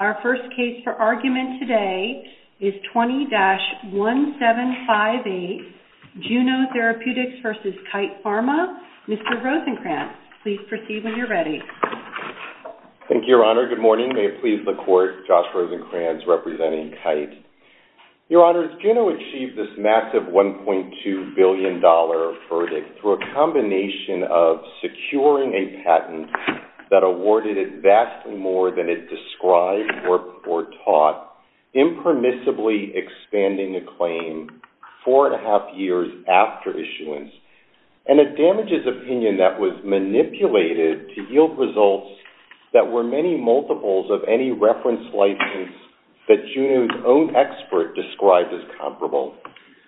Our first case for argument today is 20-1758, Juno Therapeutics v. Kite Pharma. Mr. Rosencrantz, please proceed when you're ready. Thank you, Your Honor. Good morning. May it please the Court, Josh Rosencrantz, representing Kite. Your Honor, Juno achieved this massive $1.2 billion verdict through a combination of securing a patent that awarded it vastly more than it described or taught, impermissibly expanding a claim four and a half years after issuance, and a damages opinion that was manipulated to yield results that were many multiples of any reference license that Juno's own expert described as comparable.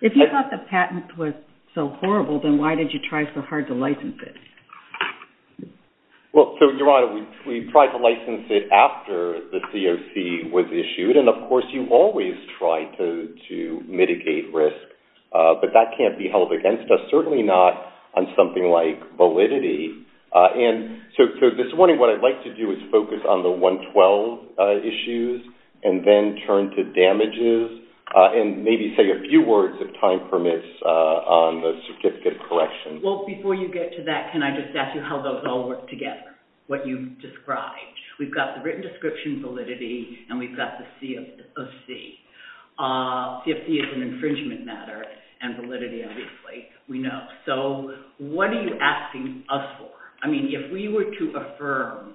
If you thought the patent was so horrible, then why did you try so hard to license it? Well, Your Honor, we tried to license it after the COC was issued, and of course you always try to mitigate risk, but that can't be held against us, certainly not on something like validity. And so this morning what I'd like to do is focus on the 112 issues and then turn to damages and maybe say a few words of time permits on the certificate collection. Well, before you get to that, can I just ask you how those all work together, what you described? We've got the written description, validity, and we've got the C of C. C of C is an infringement matter, and validity, obviously, we know. So what are you asking us for? I mean, if we were to affirm,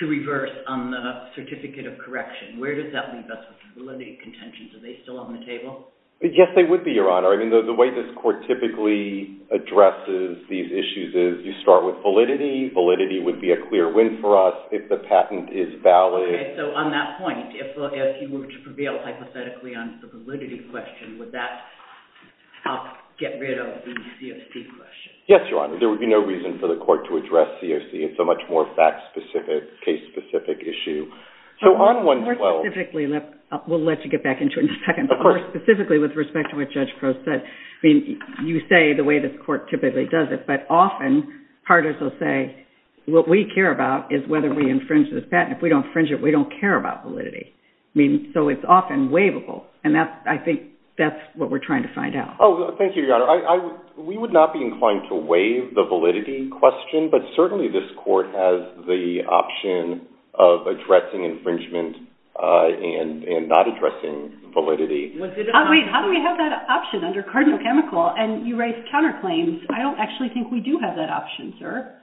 to reverse on the certificate of correction, where does that leave us with validity contentions? Are they still on the table? Yes, they would be, Your Honor. I mean, the way this court typically addresses these issues is you start with validity. Validity would be a clear win for us if the patent is valid. So on that point, if we were to prevail hypothetically on the validity question, would that help get rid of the C of C question? Yes, Your Honor. There would be no reason for the court to address C of C. It's a much more fact-specific, case-specific issue. More specifically, and we'll let you get back into it in a second, more specifically with respect to what Judge Crowe said, you say the way the court typically does it, but often, part of what they'll say, what we care about is whether we infringe this patent. If we don't infringe it, we don't care about validity. So it's often waivable, and I think that's what we're trying to find out. Thank you, Your Honor. We would not be inclined to waive the validity question, but certainly this court has the option of addressing infringement and not addressing validity. How do we have that option under cardinal chemical and you raise counterclaims? I don't actually think we do have that option, sir.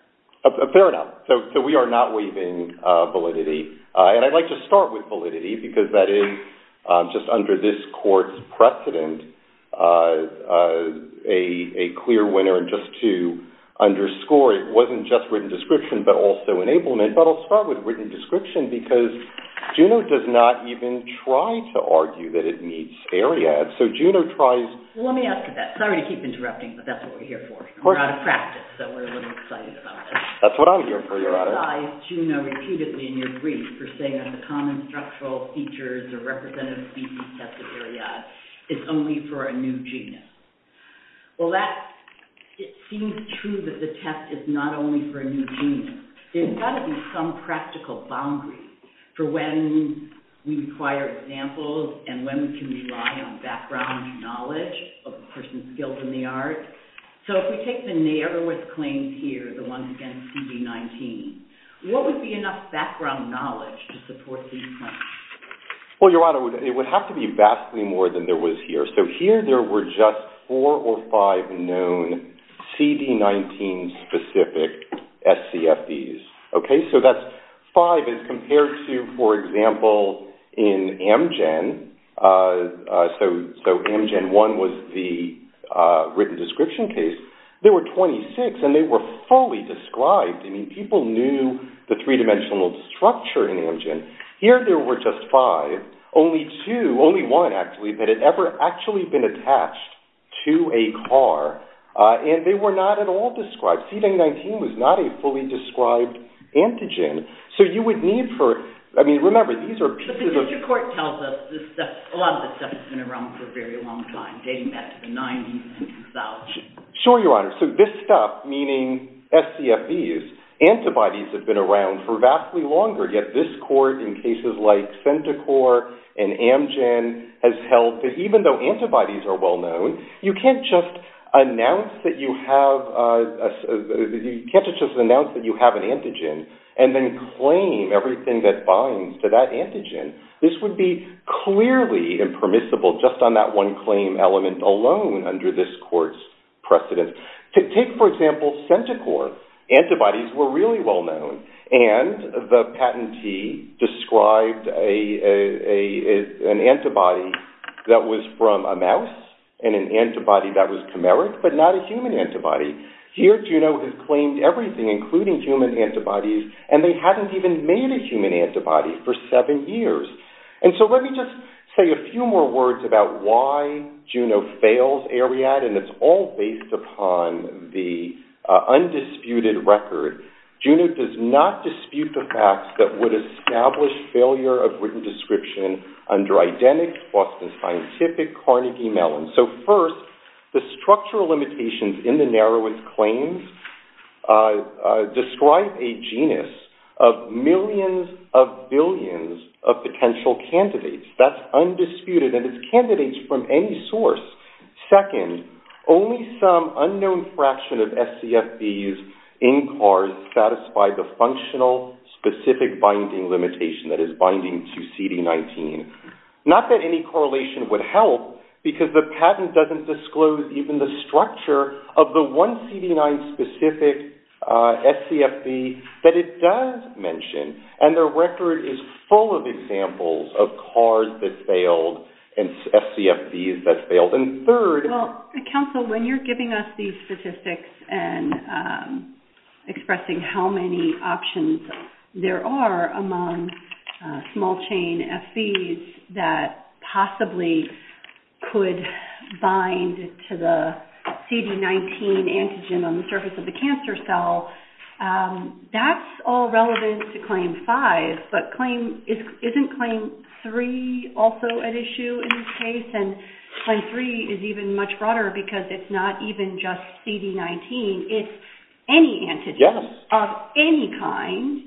Fair enough. So we are not waiving validity. And I'd like to start with validity, because that is, just under this court's precedent, a clear winner. And just to underscore, it wasn't just written description, but also enablement, but I'll start with written description, because Juno does not even try to argue that it meets ARIAD. Let me ask you that. Sorry to keep interrupting, but that's what we're here for. We're out of practice, so we're a little excited about this. That's what I'm here for, Your Honor. Why is Juno repeatedly in his brief for saying that the common structural features of representative thesis sets of ARIAD is only for a new genius? Well, it seems true that the test is not only for a new genius. There's got to be some practical boundary for when we require examples and when we can rely on background knowledge of the person's skills in the art. So if we take the narrowest claims here, the ones against CD-19, what would be enough background knowledge to support these claims? Well, Your Honor, it would have to be vastly more than there was here. So here there were just four or five known CD-19 specific SCFDs. So that's five as compared to, for example, in Amgen. So Amgen 1 was the written description case. There were 26, and they were fully described. People knew the three-dimensional structure in Amgen. Here there were just five. Only two, only one actually, that had ever actually been attached to a car, and they were not at all described. CD-19 was not a fully described antigen. So you would need for... I mean, remember, these are pieces of... But the district court tells us that a lot of the stuff has been around for a very long time, dating back to the 90s and about. Sure, Your Honor. So this stuff, meaning SCFDs, antibodies have been around for vastly longer, yet this court in cases like CentiCorps and Amgen has held that even though antibodies are well known, you can't just announce that you have an antigen and then claim everything that binds to that antigen. This would be clearly impermissible just on that one claim element alone under this court's precedent. Take, for example, CentiCorps. Antibodies were really well known, and the patentee described an antibody that was from a mouse and an antibody that was chimeric, but not a human antibody. Here, Juno has claimed everything, including human antibodies, and they haven't even made a human antibody for seven years. And so let me just say a few more words about why Juno fails AREAD, and it's all based upon the undisputed record. Juno does not dispute the facts that would establish failure of written description under identical Boston Scientific Carnegie-Mellon. So first, the structural limitations in the narrowing claims describe a genus of millions of billions of potential candidates. That's undisputed, and it's candidates from any source. Second, only some unknown fraction of SCFDs in CARD satisfy the functional specific binding limitation that is binding to CD19. Not that any correlation would help, because the patent doesn't disclose even the structure of the one CD9-specific SCFD that it does mention, and the record is full of examples of CARDs that failed and SCFDs that failed. Counsel, when you're giving us these statistics and expressing how many options there are among small chain SCFDs that possibly could bind to the CD19 antigen on the surface of the cancer cell, that's all relevant to Claim 5, but isn't Claim 3 also an issue in this case? And Claim 3 is even much broader because it's not even just CD19. It's any antigen of any kind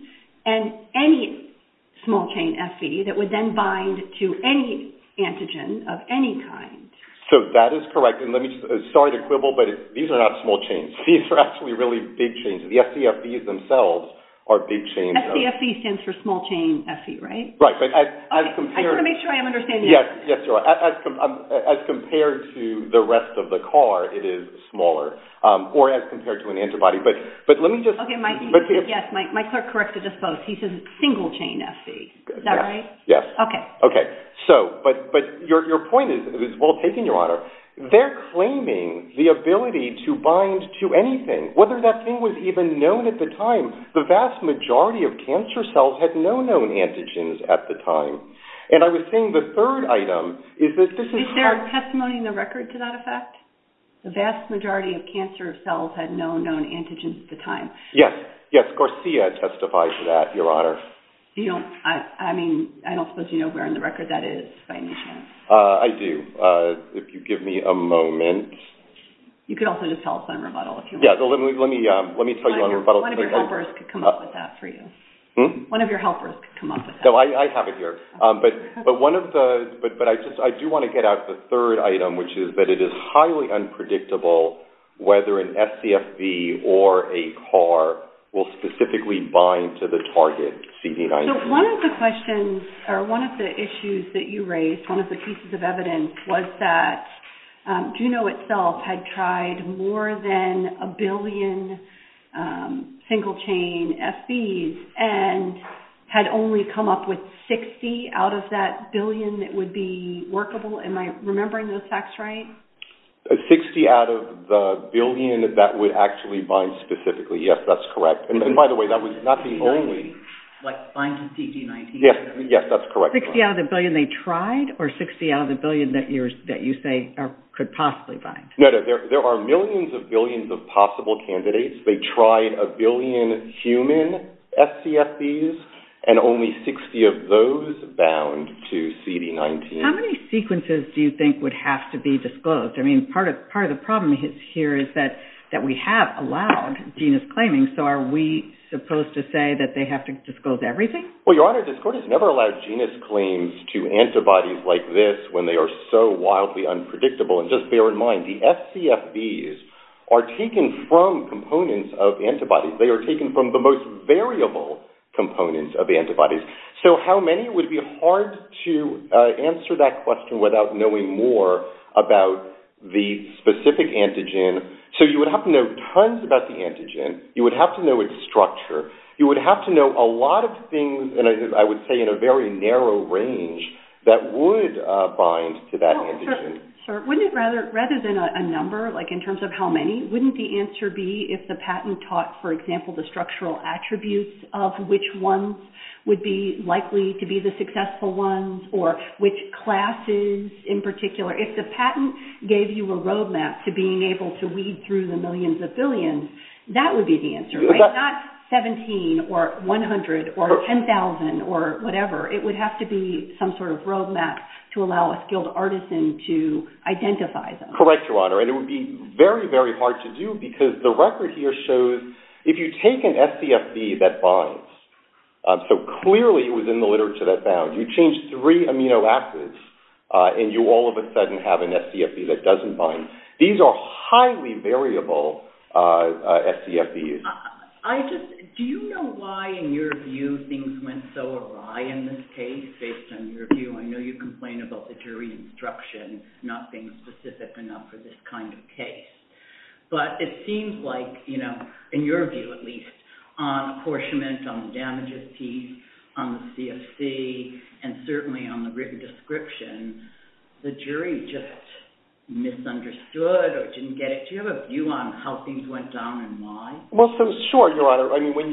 and any small chain SCFD that would then bind to any antigen of any kind. So that is correct. And let me start to quibble, but these are not small chains. These are actually really big chains. The SCFDs themselves are big chains. SCFD stands for small chain SC, right? Right. I just want to make sure I'm understanding this. Yes, you are. As compared to the rest of the CAR, it is smaller, or as compared to an antibody. But let me just... Okay, my clerk corrected us both. He says it's single chain SC. Is that right? Yes. Okay. But your point is well taken, Your Honor. They're claiming the ability to bind to anything. Whether that thing was even known at the time. The vast majority of cancer cells had no known antigens at the time. And I was saying the third item is that this is... Is there a testimony in the record to that effect? The vast majority of cancer cells had no known antigens at the time. Yes. Yes, Garcia testified to that, Your Honor. I don't suppose you know where in the record that is by any chance. I do. If you give me a moment. You could also just tell us on rebuttal if you want. Yeah, let me tell you on rebuttal. One of your helpers could come up with that for you. Hmm? One of your helpers could come up with that. No, I have it here. But one of the... But I do want to get out the third item, which is that it is highly unpredictable whether an SCFV or a CAR will specifically bind to the target CD9. So one of the questions or one of the issues that you raised, one of the pieces of evidence, was that Juno itself had tried more than a billion single-chain FVs and had only come up with 60 out of that billion that would be workable. Am I remembering those facts right? 60 out of the billion that that would actually bind specifically. Yes, that's correct. And by the way, that would not be only... Like bind to CD9. Yes, that's correct. 60 out of the billion they tried or 60 out of the billion that you say could possibly bind? No, no. There are millions of billions of possible candidates. They tried a billion human SCFVs and only 60 of those bound to CD19. How many sequences do you think would have to be disclosed? I mean, part of the problem here is that we have allowed genus claiming. So are we supposed to say that they have to disclose everything? Well, Your Honor, the court has never allowed genus claims to antibodies like this when they are so wildly unpredictable. And just bear in mind, the SCFVs are taken from components of antibodies. They are taken from the most variable components of antibodies. So how many would be hard to answer that question without knowing more about the specific antigen? So you would have to know tons about the antigen. You would have to know its structure. You would have to know a lot of things, and I would say in a very narrow range, that would bind to that antigen. Rather than a number, like in terms of how many, wouldn't the answer be if the patent taught, for example, the structural attributes of which ones would be likely to be the successful ones or which classes in particular? If the patent gave you a roadmap to being able to weed through the millions of billions, that would be the answer, right? Not 17 or 100 or 10,000 or whatever. It would have to be some sort of roadmap to allow a skilled artisan to identify them. Correct, Your Honor, and it would be very, very hard to do because the record here shows if you take an SCFV that binds, so clearly it was in the literature that bound, you change three amino acids and you all of a sudden have an SCFV that doesn't bind. These are highly variable SCFVs. Do you know why, in your view, things went so awry in this case? Based on your view, I know you complain about the jury instruction not being specific enough for this kind of case, but it seems like, in your view at least, on apportionment, on the damage of teeth, on the CFC, and certainly on the written description, the jury just misunderstood or didn't get it. Do you have a view on how things went down and why? Well, sure, Your Honor. I mean, when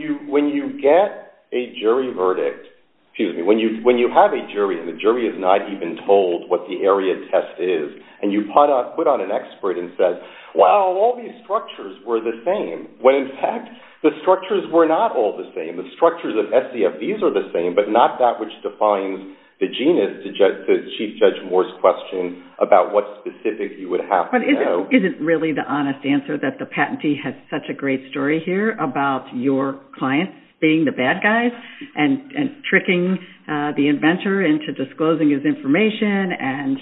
you get a jury verdict, excuse me, when you have a jury and the jury is not even told what the area of test is, and you put on an expert and said, well, all these structures were the same, when in fact the structures were not all the same. The structures of SCFVs are the same, but not that which defines the genus, which is the Chief Judge Moore's question about what specifics you would have to know. But is it really the honest answer that the patentee has such a great story here about your client being the bad guy and tricking the inventor into disclosing his information, and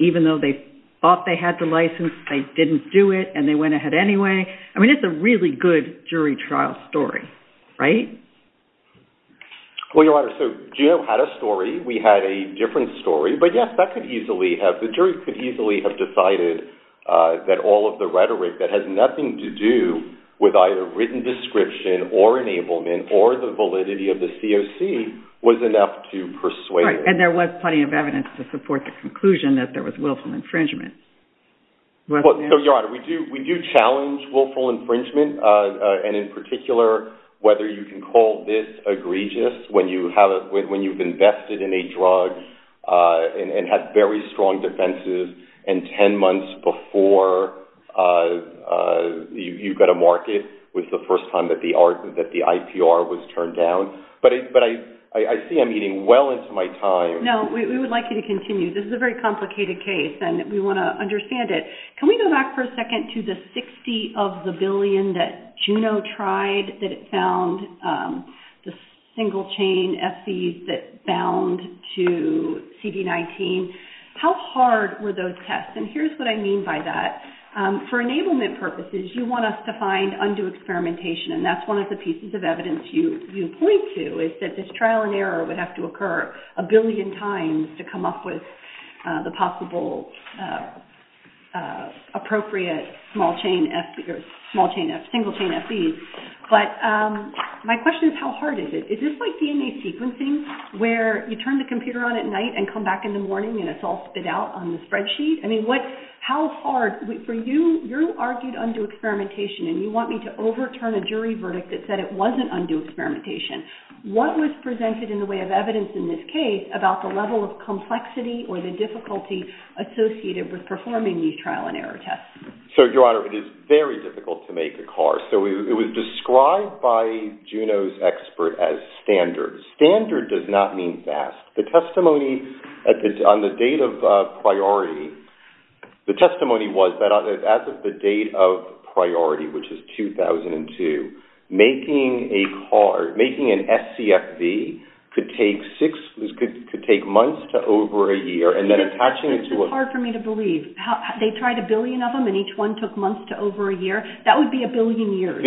even though they thought they had the license, they didn't do it, and they went ahead anyway? I mean, it's a really good jury trial story, right? Well, Your Honor, so Jim had a story. We had a different story. But, yes, the jury could easily have decided that all of the rhetoric that has nothing to do with either written description or enablement or the validity of the COC was enough to persuade. And there was plenty of evidence to support the conclusion that there was willful infringement. So, Your Honor, we do challenge willful infringement, and in particular, whether you can call this egregious when you've invested in a drug and have very strong defenses, and ten months before you've got a market was the first time that the IPR was turned down. But I see I'm getting well into my time. No, we would like you to continue. This is a very complicated case, and we want to understand it. Can we go back for a second to the 60 of the billion that Juno tried that it found, the single-chain SVs that bound to CD19? How hard were those tests? And here's what I mean by that. For enablement purposes, you want us to find undue experimentation, and that's one of the pieces of evidence you point to is that this trial and error would have to occur a billion times to come up with the possible appropriate single-chain SVs. But my question is how hard is it? Is this like DNA sequencing where you turn the computer on at night and come back in the morning and it's all spit out on the spreadsheet? I mean, how hard? For you, you argued undue experimentation, and you want me to overturn a jury verdict that said it wasn't undue experimentation. What was presented in the way of evidence in this case about the level of complexity or the difficulty associated with performing these trial and error tests? So, Your Honor, it is very difficult to make a car. So it was described by Juno's expert as standard. Standard does not mean vast. The testimony on the date of priority, the testimony was that as of the date of priority, which is 2002, making a car, making an SCFV could take months to over a year. It's hard for me to believe. They tried a billion of them, and each one took months to over a year. That would be a billion years.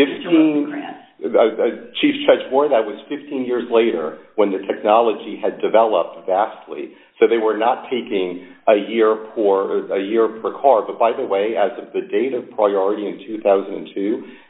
Chief Judge Ward, that was 15 years later when the technology had developed vastly. So they were not taking a year per car. But by the way, as of the date of priority in 2002,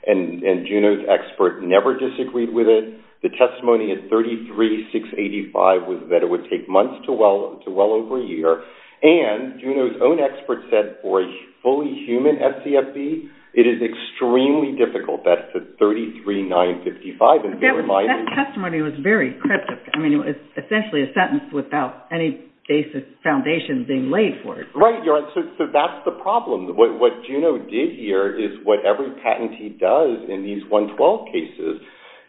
and Juno's expert never disagreed with it, the testimony is 33,685, that it would take months to well over a year. And Juno's own expert said for a fully human SCFV, it is extremely difficult. That's the 33,955. That testimony was very cryptic. I mean, it's essentially a sentence without any basic foundation being laid for it. Right, so that's the problem. What Juno did here is what every patentee does in these 112 cases,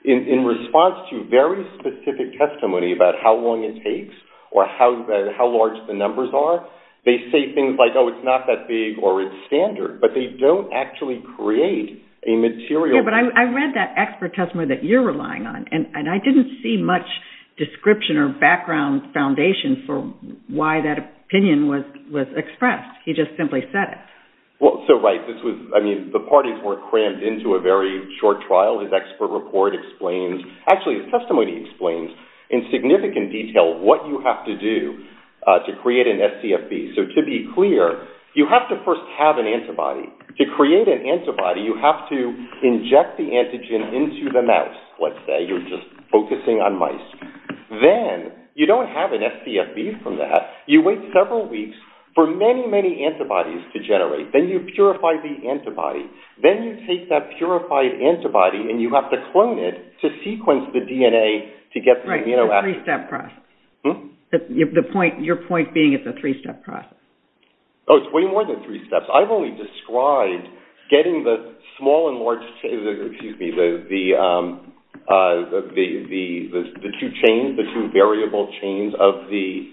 in response to very specific testimony about how long it takes or how large the numbers are, they say things like, oh, it's not that big or it's standard. But they don't actually create a material. Yeah, but I read that expert testimony that you're relying on, and I didn't see much description or background foundation for why that opinion was expressed. He just simply said it. Well, so right, this was, I mean, the parties were crammed into a very short trial. His expert report explains, actually his testimony explains in significant detail what you have to do to create an SCFV. So to be clear, you have to first have an antibody. To create an antibody, you have to inject the antigen into the mouse, let's say. You're just focusing on mice. Then you don't have an SCFV from that. You wait several weeks for many, many antibodies to generate. Then you purify the antibody. Then you take that purified antibody and you have to clone it to sequence the DNA to get the amino acid. Right, it's a three-step process. Your point being it's a three-step process. Oh, it's way more than three steps. I've only described getting the small and large, excuse me, the two chains, the two variable chains of the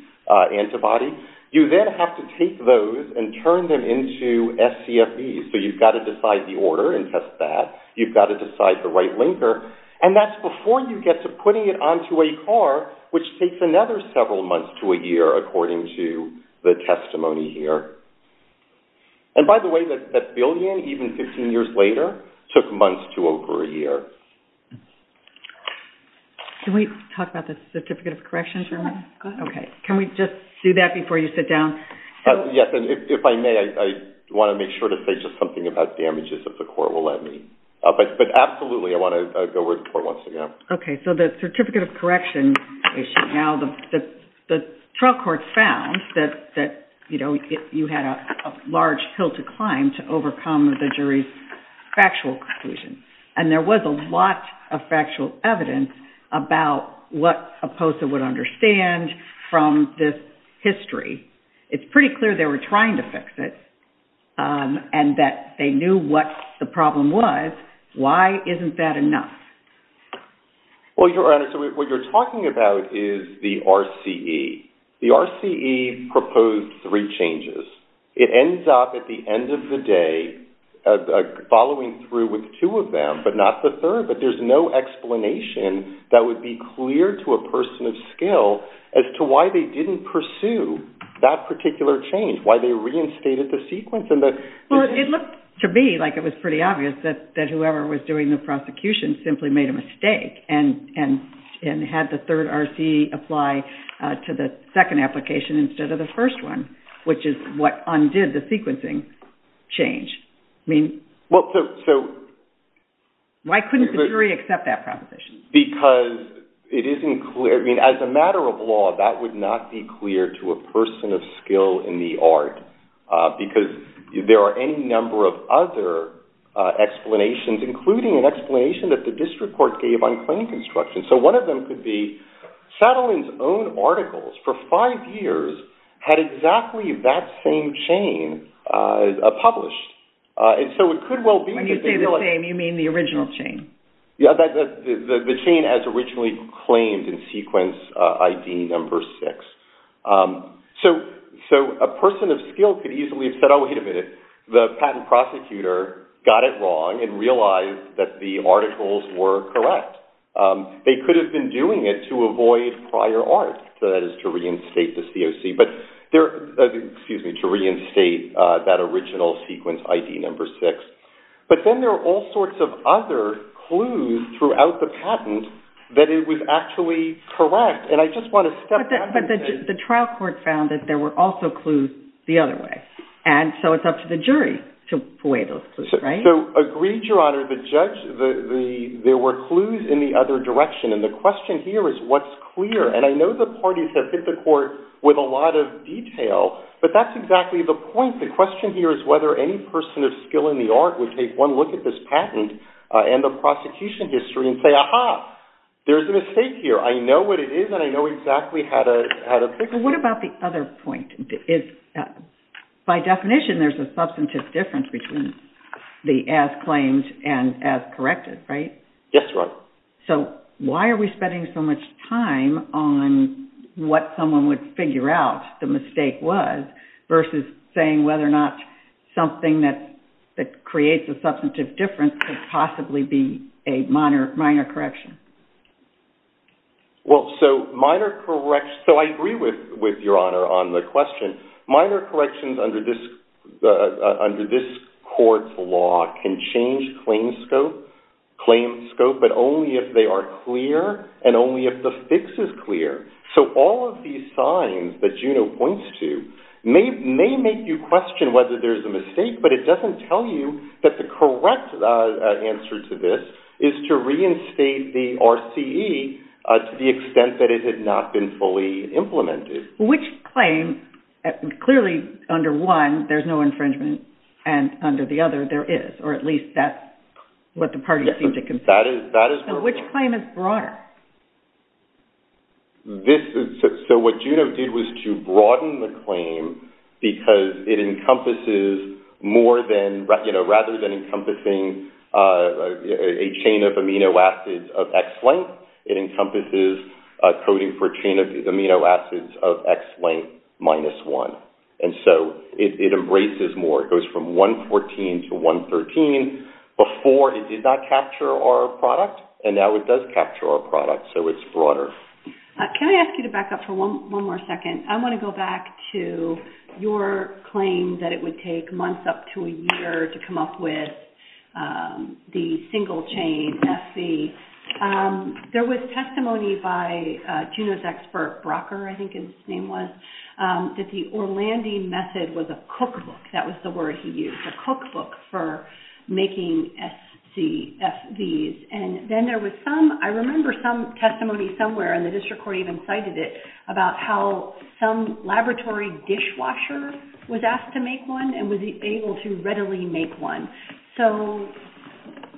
antibody. You then have to take those and turn them into SCFVs. So you've got to decide the order and test that. You've got to decide the right linker. And that's before you get to putting it onto a car, which takes another several months to a year, according to the testimony here. And by the way, that billion, even 16 years later, took months to over a year. Can we talk about the certificate of corrections real quick? Okay. Can we just do that before you sit down? Yes, and if I may, I want to make sure to say just something about damages that the Corps will let me. But absolutely, I want to go over it once again. Okay, so the certificate of corrections issue. Now, the trial court found that you had a large hill to climb to overcome the jury's factual conclusion. And there was a lot of factual evidence about what a POSA would understand from this history. It's pretty clear they were trying to fix it and that they knew what the problem was. Why isn't that enough? Well, Your Honor, what you're talking about is the RCE. The RCE proposed three changes. It ends up at the end of the day following through with two of them, but not the third. But there's no explanation that would be clear to a person of skill as to why they didn't pursue that particular change, why they reinstated the sequence. Well, it looked to me like it was pretty obvious that whoever was doing the prosecution simply made a mistake and had the third RCE apply to the second application instead of the first one, which is what undid the sequencing change. I mean, why couldn't the jury accept that proposition? Because it isn't clear. I mean, as a matter of law, that would not be clear to a person of skill in the art because there are any number of other explanations, including an explanation that the district court gave on claim construction. So one of them could be Satterling's own articles for five years had exactly that same chain published. And so it could well be... When you say the same, you mean the original chain? Yeah, the chain as originally claimed in sequence ID number six. So a person of skill could easily have said, oh, wait a minute, the patent prosecutor got it wrong and realized that the articles were correct. They could have been doing it to avoid prior art, so that is to reinstate the COC, but excuse me, to reinstate that original sequence ID number six. But then there are all sorts of other clues throughout the patent that it was actually correct. And I just want to step back... But the trial court found that there were also clues the other way, and so it's up to the jury to weigh those clues, right? So agreed, Your Honor, the judge, there were clues in the other direction, and the question here is what's clear? And I know the parties have hit the court with a lot of detail, but that's exactly the point. The question here is whether any person of skill in the art would take one look at this patent and the prosecution history and say, aha, there's a mistake here. I know what it is, and I know exactly how to fix it. Well, what about the other point? By definition, there's a substantive difference between the as-claimed and as-corrected, right? Yes, Your Honor. So why are we spending so much time on what someone would figure out the mistake was versus saying whether or not something that creates a substantive difference could possibly be a minor correction? Well, so I agree with Your Honor on the question. Minor corrections under this court's law can change claim scope, but only if they are clear and only if the fix is clear. So all of these signs that Juno points to may make you question whether there's a mistake, but it doesn't tell you that the correct answer to this is to reinstate the RCE to the extent that it has not been fully implemented. Which claim? Clearly, under one, there's no infringement, and under the other, there is, or at least that's what the parties seem to consider. Yes, that is correct. So which claim is broader? So what Juno did was to broaden the claim because it encompasses more than, rather than encompassing a chain of amino acids of X length, it encompasses coding for a chain of amino acids of X length minus one. And so it embraces more. It goes from 114 to 113. It did not capture our product, and now it does capture our product, so it's broader. Can I ask you to back up for one more second? I want to go back to your claim that it would take months up to a year to come up with the single-chain RCE. There was testimony by Juno's expert, Brocker, I think his name was, that the Orlandi method was a cookbook, that was the word he used, a cookbook for making SVs. And then there was some, I remember some testimony somewhere, and the district court even cited it, about how some laboratory dishwasher was asked to make one and was able to readily make one. So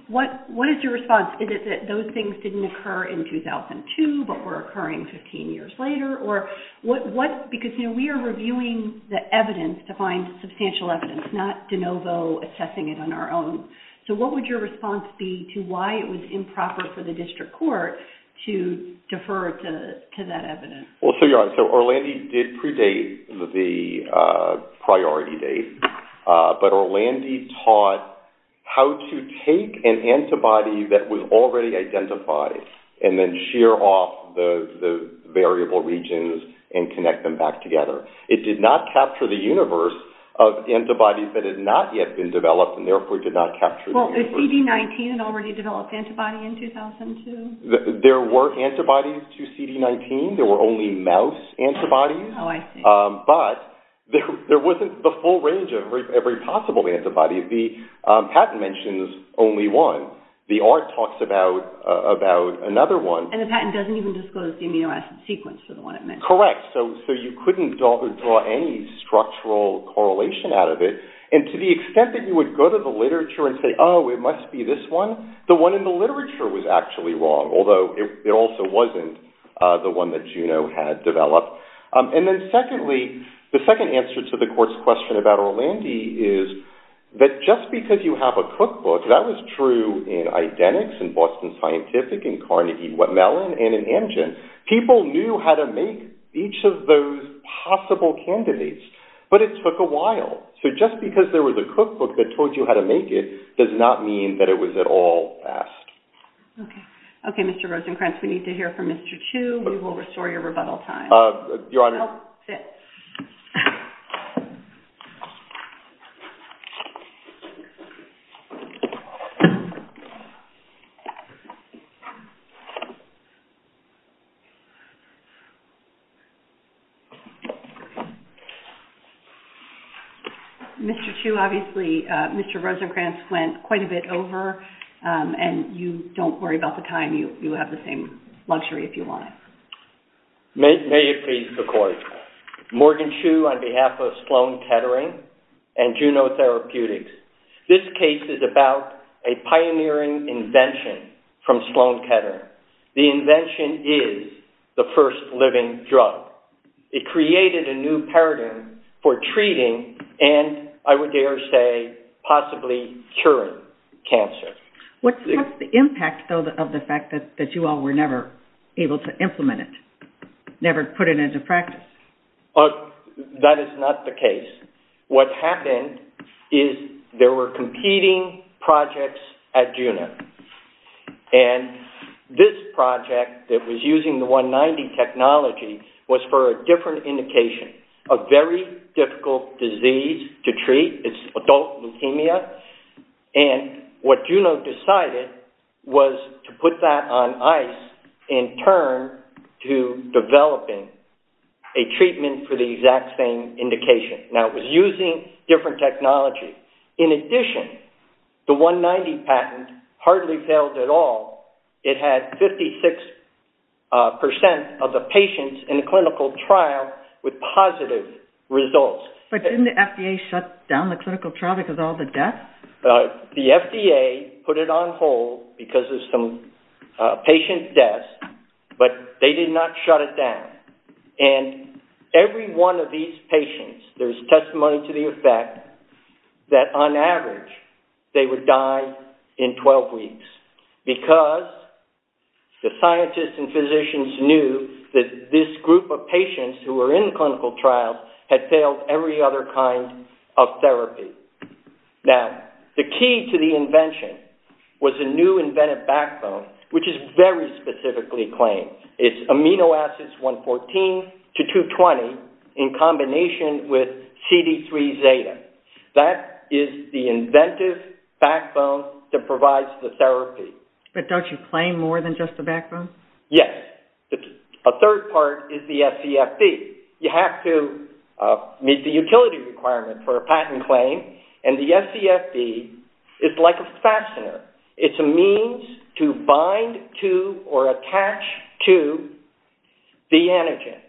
what is your response? Is it that those things didn't occur in 2002 but were occurring 15 years later? Or what, because we are reviewing the evidence to find substantial evidence, it's not de novo assessing it on our own. So what would your response be to why it was improper for the district court to defer to that evidence? Well, so you're right, so Orlandi did predate the priority date, but Orlandi taught how to take an antibody that was already identified and then shear off the variable regions and connect them back together. It did not capture the universe of antibodies that had not yet been developed and therefore did not capture the universe. Well, CD19 had already developed antibodies in 2002? There were antibodies to CD19, there were only mouse antibodies, but there wasn't the full range of every possible antibody. The patent mentions only one. The art talks about another one. And the patent doesn't even disclose the amino acid sequence for the one it mentions. Correct. So you couldn't draw any structural correlation out of it. And to the extent that you would go to the literature and say, oh, it must be this one, the one in the literature was actually wrong, although it also wasn't the one that Juno had developed. And then secondly, the second answer to the court's question about Orlandi is that just because you have a cookbook, that was true in identics, in Boston Scientific, in Carnegie Mellon, and in Amgen. People knew how to make each of those possible candidates, but it took a while. So just because there was a cookbook that told you how to make it does not mean that it was at all fast. Okay. Okay, Mr. Rosenkranz, we need to hear from Mr. Chu. We will restore your rebuttal time. Your Honor. Oh, sit. Mr. Chu, obviously Mr. Rosenkranz went quite a bit over, and you don't worry about the time. You have the same luxury if you want. May it please the Court. Morgan Chu on behalf of Sloan Kettering and Juno Therapeutics. This case is about a pioneering invention from Sloan Kettering. The invention is the first living drug. It created a new paradigm for treating and, I would dare say, possibly curing cancer. What's the impact of the fact that you all were never able to implement it, never put it into practice? That is not the case. What happened is there were competing projects at Juno, and this project that was using the 190 technology was for a different indication, a very difficult disease to treat. It's adult leukemia. And what Juno decided was to put that on ice in turn to developing a treatment for the exact same indication. Now, it was using different technology. In addition, the 190 patent hardly failed at all. It had 56% of the patients in the clinical trial with positive results. But didn't the FDA shut down the clinical trial because of all the deaths? The FDA put it on hold because of some patient deaths, but they did not shut it down. And every one of these patients, there's testimony to the effect that, on average, they would die in 12 weeks because the scientists and physicians knew that this group of patients who were in clinical trials had failed every other kind of therapy. Now, the key to the invention was a new invented backbone, which is very specifically claimed. It's amino acids 114 to 220 in combination with CD3 Zeta. That is the inventive backbone that provides the therapy. But don't you claim more than just the backbone? Yes. A third part is the SCFD. You have to meet the utility requirement for a patent claim, and the SCFD is like a fastener. It's a means to bind to or attach to the antigen.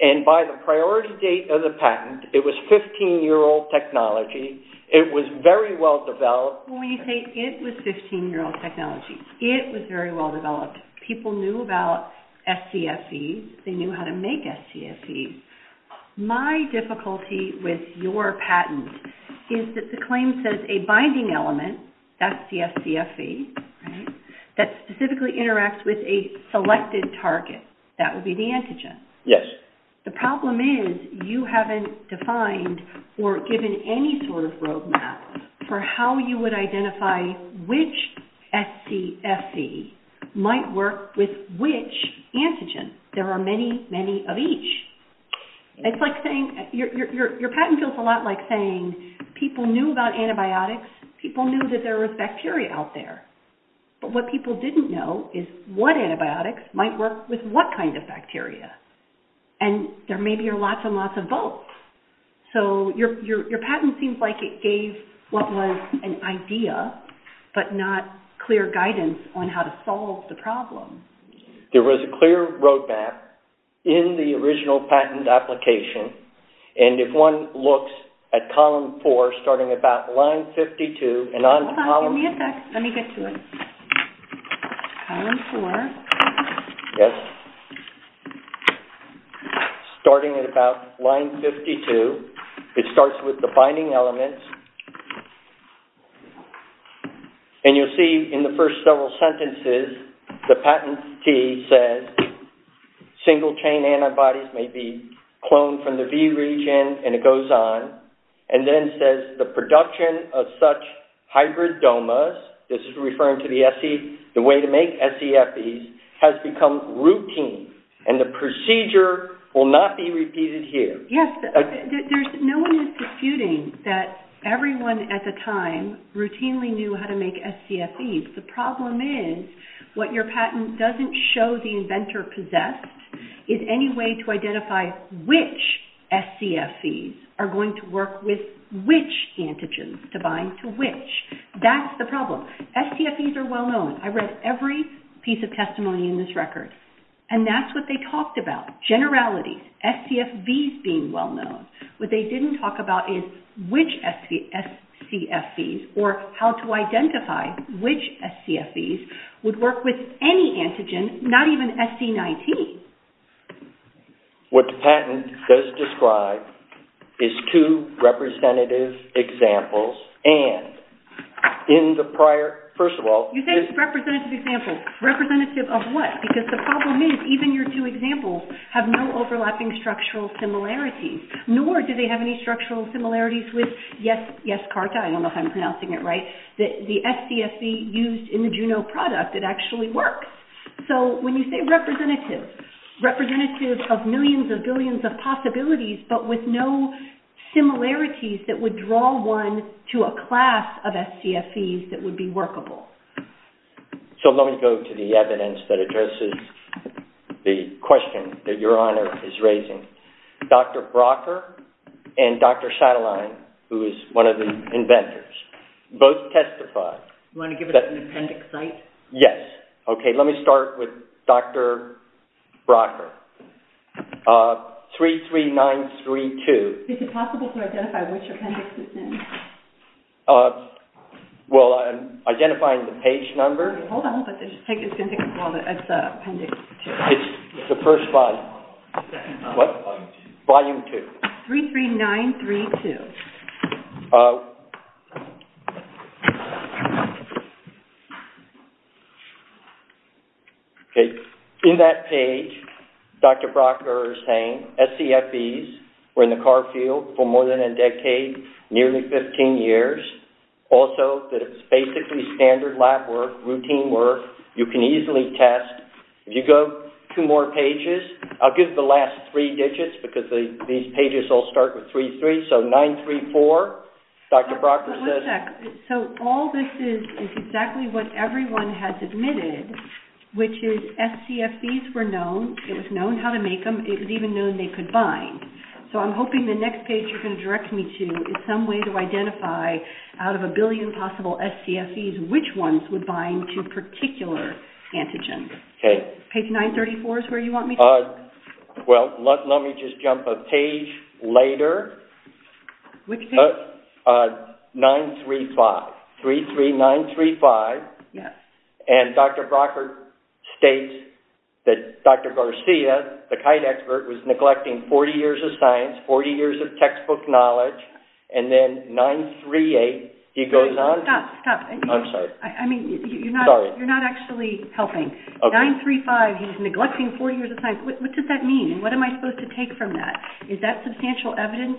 And by the priority date of the patent, it was 15-year-old technology. It was very well developed. When you say it was 15-year-old technology, it was very well developed. People knew about SCFDs. They knew how to make SCFDs. My difficulty with your patent is that the claim says a binding element, that's the SCFD, that specifically interacts with a selected target. That would be the antigen. Yes. The problem is you haven't defined or given any sort of roadmap for how you would identify which SCFD might work with which antigen. There are many, many of each. Your patent feels a lot like saying people knew about antibiotics, people knew that there was bacteria out there. But what people didn't know is what antibiotics might work with what kind of bacteria. And there may be lots and lots of both. So your patent seems like it gave what was an idea but not clear guidance on how to solve the problem. There was a clear roadmap in the original patent application, and if one looks at column four, starting about line 52... Hold on, let me get to it. Column four. Yes. Starting at about line 52, it starts with the binding elements. And you'll see in the first several sentences, the patent fee says single-chain antibodies may be cloned from the B region, and it goes on. And then it says the production of such hybrid DOMAs, this is referring to the way to make SCFDs, has become routine, and the procedure will not be repeated here. Yes. No one is disputing that everyone at the time routinely knew how to make SCFDs. The problem is what your patent doesn't show the inventor possess is any way to identify which SCFDs are going to work with which antigens to bind to which. That's the problem. SCFDs are well-known. I read every piece of testimony in this record, and that's what they talked about, generalities, SCFDs being well-known. What they didn't talk about is which SCFDs or how to identify which SCFDs would work with any antigen, not even SC19. What the patent does describe is two representative examples, and in the prior, first of all. You said representative examples. Representative of what? Because the problem is even your two examples have no overlapping structural similarities, nor do they have any structural similarities with Yescarta. I don't know if I'm pronouncing it right. The SCFD used in the Juno product, it actually works. So when you say representative, representative of millions or billions of possibilities, but with no similarities that would draw one to a class of SCFDs that would be workable. So let me go to the evidence that addresses the question that Your Honor is raising. Dr. Brocker and Dr. Shadaline, who is one of the inventors, both testify. You want to give us an appendix site? Yes. Okay. Let me start with Dr. Brocker. 33932. Is it possible to identify which appendix it's in? Well, I'm identifying the page number. Hold on. It's the appendix. It's the first volume. What volume? Volume 2. 33932. Okay. In that page, Dr. Brocker is saying SCFDs were in the car field for more than a decade, nearly 15 years. Also, it's basically standard lab work, routine work. You can easily test. If you go two more pages, I'll give the last three digits because these pages all start with 33. So 934, Dr. Brocker says. One sec. So all this is is exactly what everyone has admitted, which is SCFDs were known. It was known how to make them. It was even known they could bind. So I'm hoping the next page you're going to direct me to is some way to identify, out of a billion possible SCFDs, which ones would bind to a particular antigen. Okay. Page 934 is where you want me to go? Well, let me just jump a page later. Which page? 935. 33935. Yes. And Dr. Brocker states that Dr. Garcia, the kite expert, was neglecting 40 years of science, 40 years of textbook knowledge. And then 938, he goes on. Stop, stop. I'm sorry. I mean, you're not actually helping. Okay. Page 935, he was neglecting 40 years of science. What does that mean? What am I supposed to take from that? Is that substantial evidence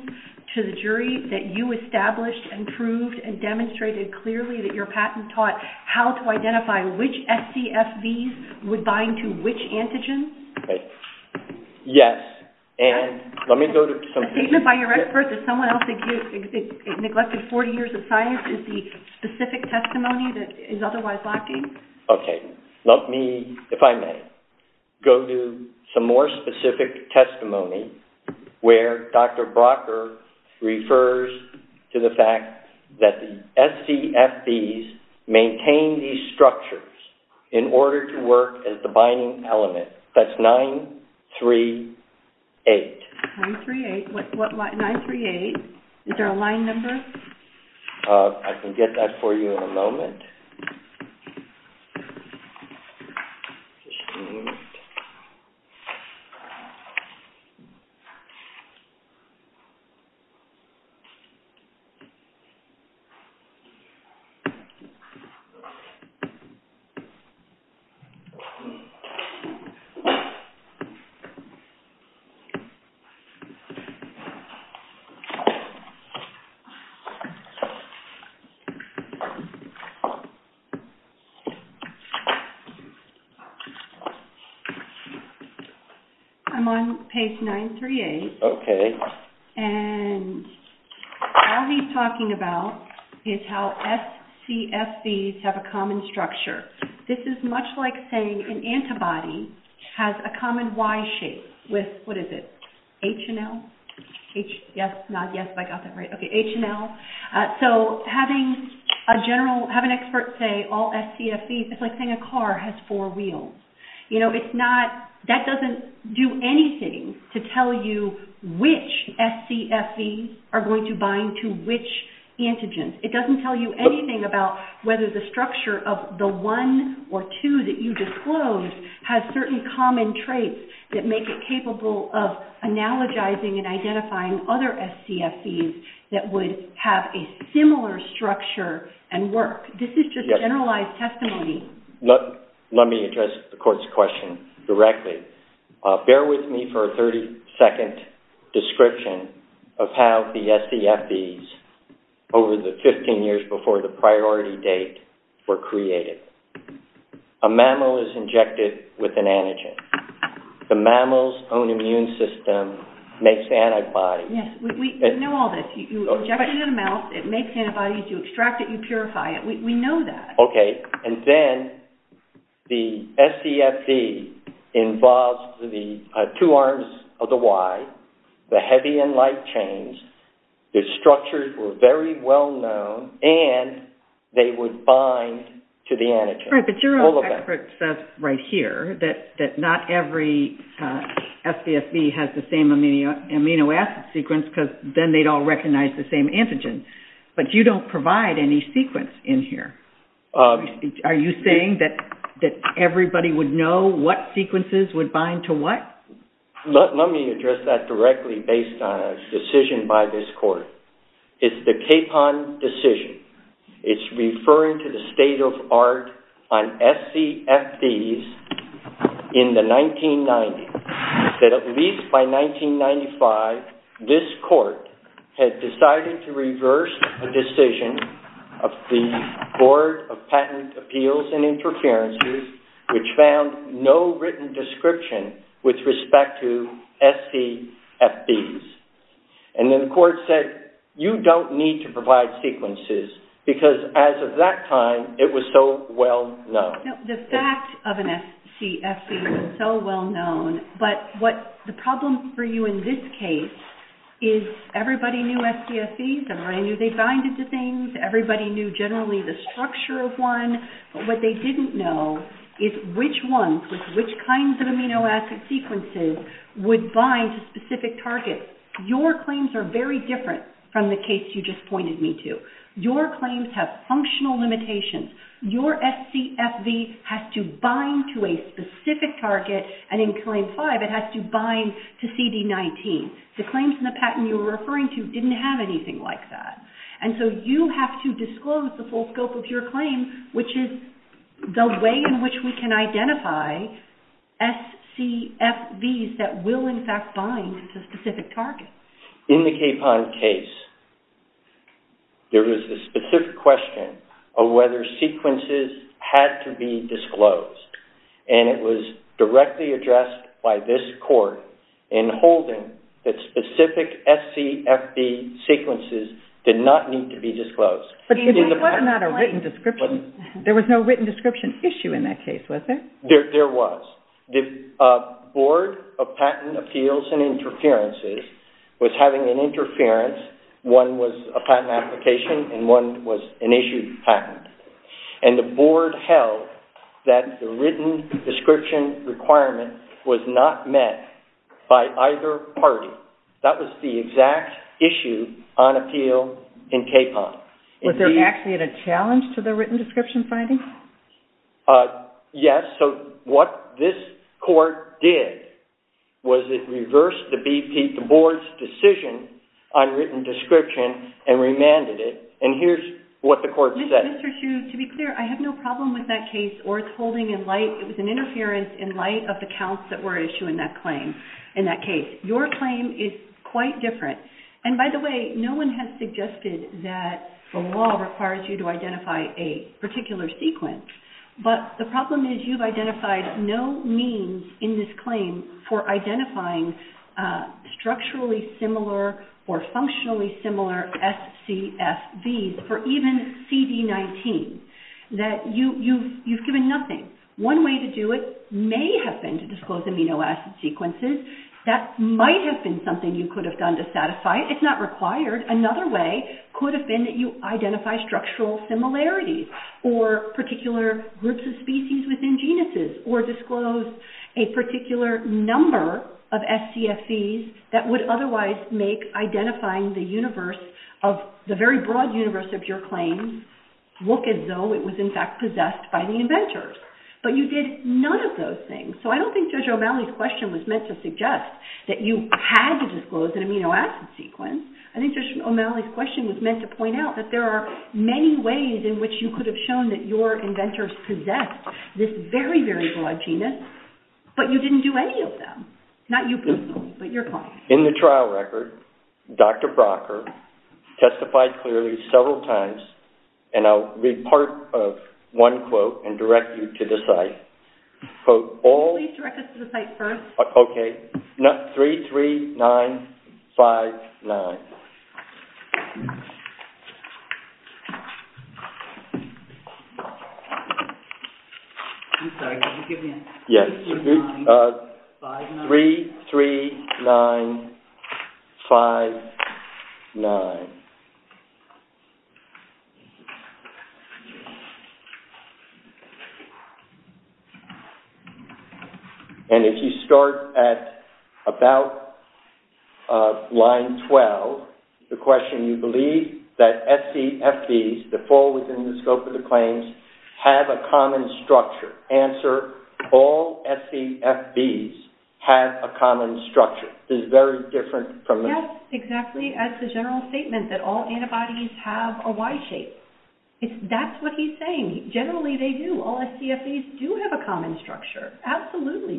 to the jury that you established and proved and demonstrated clearly that your patent taught how to identify which SCFDs would bind to which antigen? Yes. And let me go to some pages. By your expert, does someone else think he neglected 40 years of science is the specific testimony that is otherwise lacking? Okay. Let me, if I may, go to some more specific testimony where Dr. Brocker refers to the fact that the SCFDs maintain these structures in order to work as the binding element. That's 938. 938. What line? 938. Is there a line number? I can get that for you in a moment. I'm on page 938. Okay. And all he's talking about is how SCFDs have a common structure. This is much like saying an antibody has a common Y shape with, what is it, H and L? Yes, not yes, I got that right. Okay, H and L. So having a general, have an expert say all SCFDs, it's like saying a car has four wheels. You know, it's not, that doesn't do anything to tell you which SCFDs are going to bind to which antigens. It doesn't tell you anything about whether the structure of the one or two that you disclosed has certain common traits that make it capable of analogizing and identifying other SCFDs that would have a similar structure and work. This is just a generalized testimony. Let me address the court's question directly. Bear with me for a 30-second description of how the SCFDs over the 15 years before the priority date were created. A mammal is injected with an antigen. The mammal's own immune system makes antibodies. Yes, we know all this. You inject it in a mouth, it makes antibodies, you extract it, you purify it. We know that. Okay, and then the SCFD involves the two arms of the Y, the heavy and light chains. The structures were very well known, and they would bind to the antigen. All right, but your own expert says right here that not every SCFD has the same amino acid sequence because then they'd all recognize the same antigen. But you don't provide any sequence in here. Are you saying that everybody would know what sequences would bind to what? Let me address that directly based on a decision by this court. It's the K-PON decision. It's referring to the state of art on SCFDs in the 1990s, that at least by 1995, this court had decided to reverse a decision of the Board of Patent Appeals and Interferences, which found no written description with respect to SCFDs. And then the court said, you don't need to provide sequences because as of that time, it was so well known. The fact of an SCFD is so well known, but the problem for you in this case is everybody knew SCFDs, everybody knew they binded to things, everybody knew generally the structure of one, but what they didn't know is which ones, which kinds of amino acid sequences, would bind to specific targets. Your claims are very different from the case you just pointed me to. Your claims have functional limitations. Your SCFD has to bind to a specific target, and in Claim 5, it has to bind to CD19. The claims in the patent you were referring to didn't have anything like that. And so you have to disclose the full scope of your claim, which is the way in which we can identify SCFDs that will in fact bind to specific targets. In the Capon case, there was a specific question of whether sequences had to be disclosed, and it was directly addressed by this court in holding that specific SCFD sequences did not need to be disclosed. But there was no written description? There was no written description issue in that case, was there? There was. The Board of Patent Appeals and Interferences was having an interference. One was a patent application and one was an issued patent. And the Board held that the written description requirement was not met by either party. That was the exact issue on appeal in Capon. Was there actually a challenge to the written description finding? Yes. So what this court did was it reversed the BP, the Board's decision on written description, and remanded it. And here's what the court said. Mr. Chu, to be clear, I have no problem with that case or its holding in light, it was an interference in light of the counts that were issued in that claim, in that case. Your claim is quite different. And by the way, no one has suggested that the law requires you to identify a particular sequence. But the problem is you've identified no means in this claim for identifying structurally similar or functionally similar SCSBs or even CB19. You've given nothing. One way to do it may have been to disclose amino acid sequences. That might have been something you could have done to satisfy it. It's not required. Another way could have been that you identify structural similarities or particular groups of species within genuses or disclose a particular number of SCSBs that would otherwise make identifying the universe, the very broad universe of your claim, look as though it was in fact possessed by the inventor. But you did none of those things. So I don't think Judge O'Malley's question was meant to suggest that you had to disclose an amino acid sequence. I think Judge O'Malley's question was meant to point out that there are many ways in which you could have shown that your inventors possessed this very, very broad genus, but you didn't do any of them. Not you, but your point. In the trial record, Dr. Procker testified clearly several times, and I'll read part of one quote and direct you to the site. Please direct us to the site first. Okay. 33959. 33959. And if you start at about line 12, the question, you believe that SCSBs that fall within the scope of the claims have a common structure. Answer, all SCSBs have a common structure. This is very different from the... Yes, exactly. As the general statement says, that all antibodies have a Y shape. That's what he's saying. Generally, they do. All SCSBs do have a common structure. Absolutely.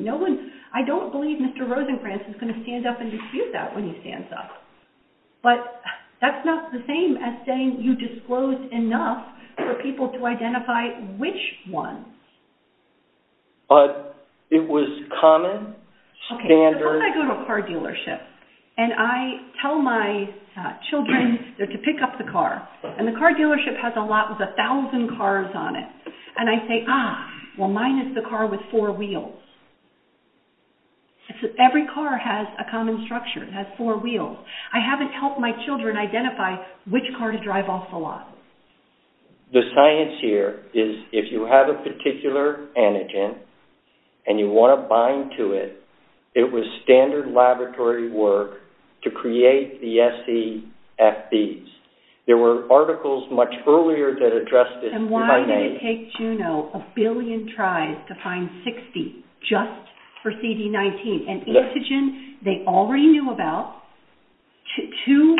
I don't believe Mr. Rosengrantz is going to stand up and dispute that when he stands up. But that's not the same as saying you disclosed enough for people to identify which one. But it was common, standard... Suppose I go to a car dealership, and I tell my children to pick up the car. And the car dealership has a lot of 1,000 cars on it. And I say, ah, well, mine is the car with four wheels. Every car has a common structure. It has four wheels. I haven't helped my children identify which car to drive off the lot. The science here is if you have a particular antigen and you want to bind to it, it was standard laboratory work to create the SCSBs. There were articles much earlier that addressed this. And why did it take Juno a billion tries to find 60 just for CD19? An antigen they already knew about. Two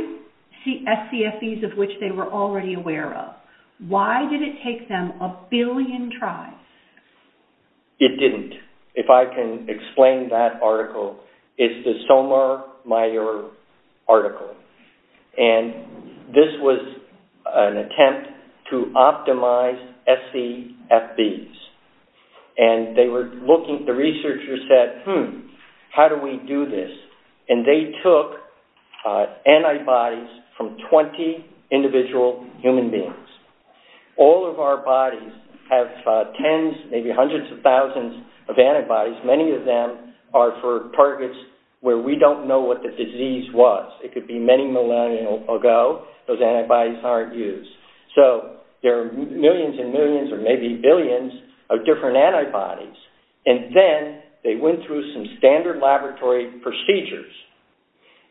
SCSBs of which they were already aware of. Why did it take them a billion tries? It didn't. If I can explain that article. It's the Stonemaier article. And this was an attempt to optimize SCSBs. And they were looking... The researchers said, hmm, how do we do this? And they took antibodies from 20 individual human beings. All of our bodies have tens, maybe hundreds of thousands of antibodies. Many of them are for targets where we don't know what the disease was. It could be many millennia ago. Those antibodies aren't used. So there are millions and millions or maybe billions of different antibodies. And then they went through some standard laboratory procedures.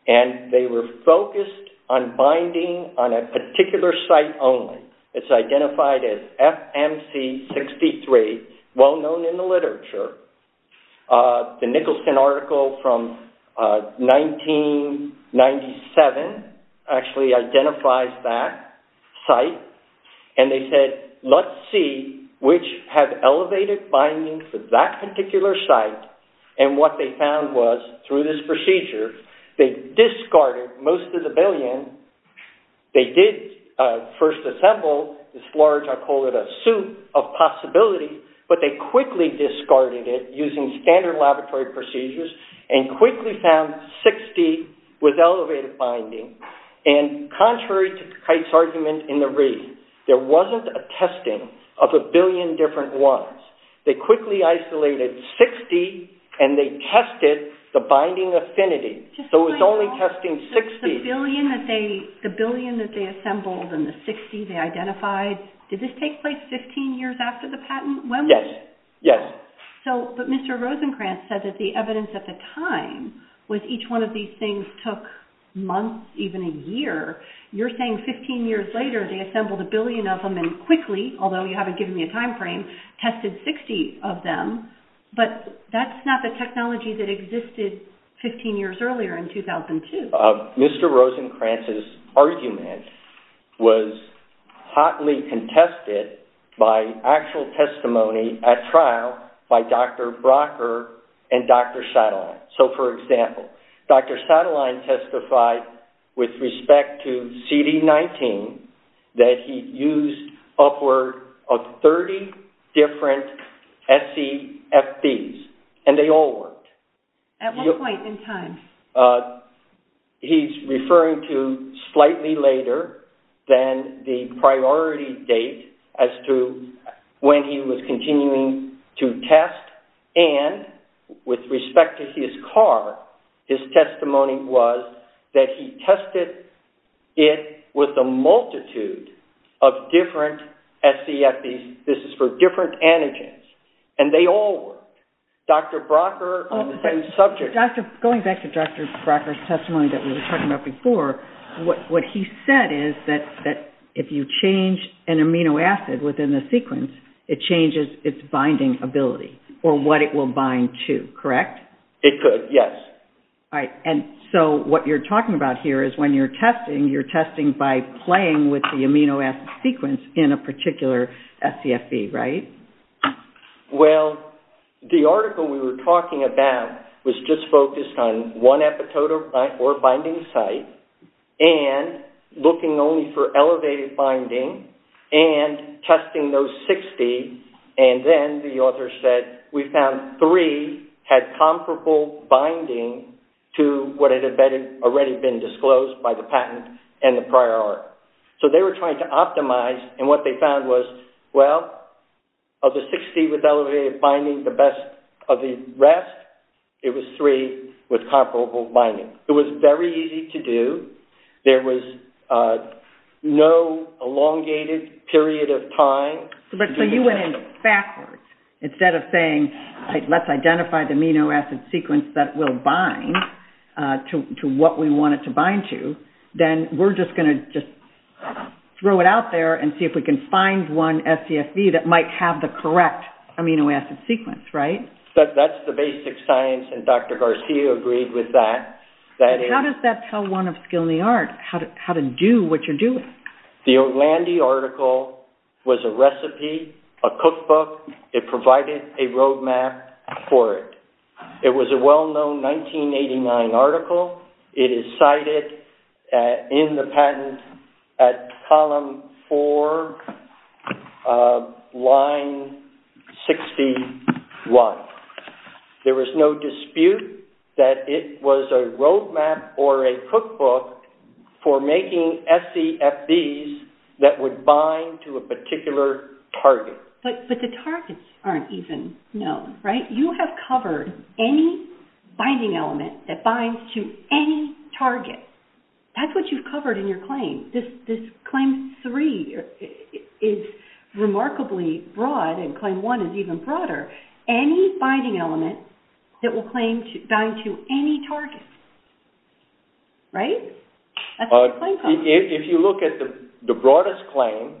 And they were focused on binding on a particular site only. It's identified as FMC63, well known in the literature. The Nicholson article from 1997 actually identifies that site. And they said, let's see which have elevated binding for that particular site. And what they found was, through this procedure, they discarded most of the billion. They did first assemble this large, I call it, a suit of possibility. But they quickly discarded it using standard laboratory procedures and quickly found 60 with elevated binding. And contrary to Kite's argument in the read, there wasn't a testing of a billion different ones. They quickly isolated 60 and they tested the binding affinity. So it's only testing 60. The billion that they assembled and the 60 they identified, did this take place 15 years after the patent? Yes. Yes. But Mr. Rosenkranz said that the evidence at the time was each one of these things took months, even a year. You're saying 15 years later, they assembled a billion of them and quickly, although you haven't given me a time frame, tested 60 of them. But that's not the technology that existed 15 years earlier in 2002. Mr. Rosenkranz's argument was hotly contested by actual testimony at trial by Dr. Brocker and Dr. Shadline. So for example, Dr. Shadline testified with respect to CD19 that he used upward of 30 different SCFDs and they all worked. At what point in time? He's referring to slightly later than the priority date as to when he was continuing to test and with respect to his car, his testimony was that he tested it with a multitude of different SCFDs. This is for different antigens. And they all worked. Dr. Brocker on the same subject. Going back to Dr. Brocker's testimony that we were talking about before, what he said is that if you change an amino acid within the sequence, it changes its binding ability or what it will bind to, correct? It could, yes. And so what you're talking about here is when you're testing, you're testing by playing with the amino acid sequence in a particular SCFD, right? Well, the article we were talking about was just focused on one epitope or binding site and looking only for elevated binding and testing those 60 and then the author said we found three had comparable binding to what had already been disclosed by the patent and the prior article. So they were trying to optimize and what they found was, well, of the 60 with elevated binding, the best of the rest, it was three with comparable binding. It was very easy to do. There was no elongated period of time. So you went backwards. Instead of saying let's identify the amino acid sequence that will bind to what we want it to bind to, then we're just going to just throw it out there and see if we can find one SCFD that might have the correct amino acid sequence, right? That's the basic science and Dr. Garcia agreed with that. How does that tell one of skill in the art how to do what you're doing? The Orlandi article was a recipe, a cookbook. It provided a roadmap for it. It was a well-known 1989 article. It is cited in the patent at column four, line 61. There was no dispute that it was a roadmap or a cookbook for making SCFDs that would bind to a particular target. But the targets aren't even known, right? You have covered any binding element that binds to any target. That's what you've covered in your claim. This claim three is remarkably broad and claim one is even broader. Any binding element that will bind to any target, right? If you look at the broadest claim,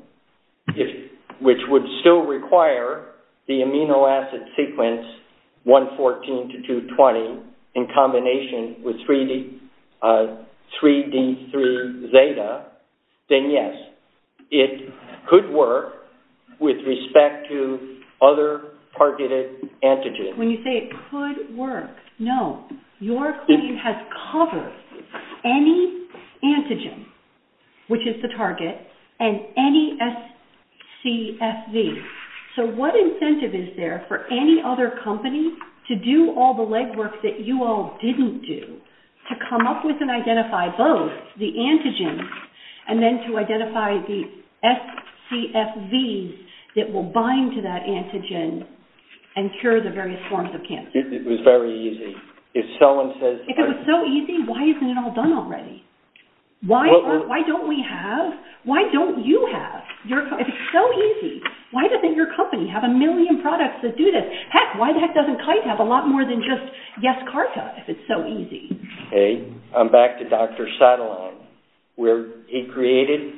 which would still require the amino acid sequence 114 to 220 in combination with 3D3 zeta, then yes, it could work with respect to other targeted antigens. When you say it could work, no. Your claim has covered any antigen, which is the target, and any SCFD. What incentive is there for any other company to do all the legwork that you all didn't do to come up with and identify both the antigen and then to identify the SCFD that will bind to that antigen and cure the various forms of cancer? It was very easy. If it was so easy, why isn't it all done already? Why don't we have? Why don't you have? It's so easy. Why doesn't your company have a million products that do this? Heck, why the heck doesn't Kite have a lot more than just Yescarta if it's so easy? I'm back to Dr. Sattelon where he created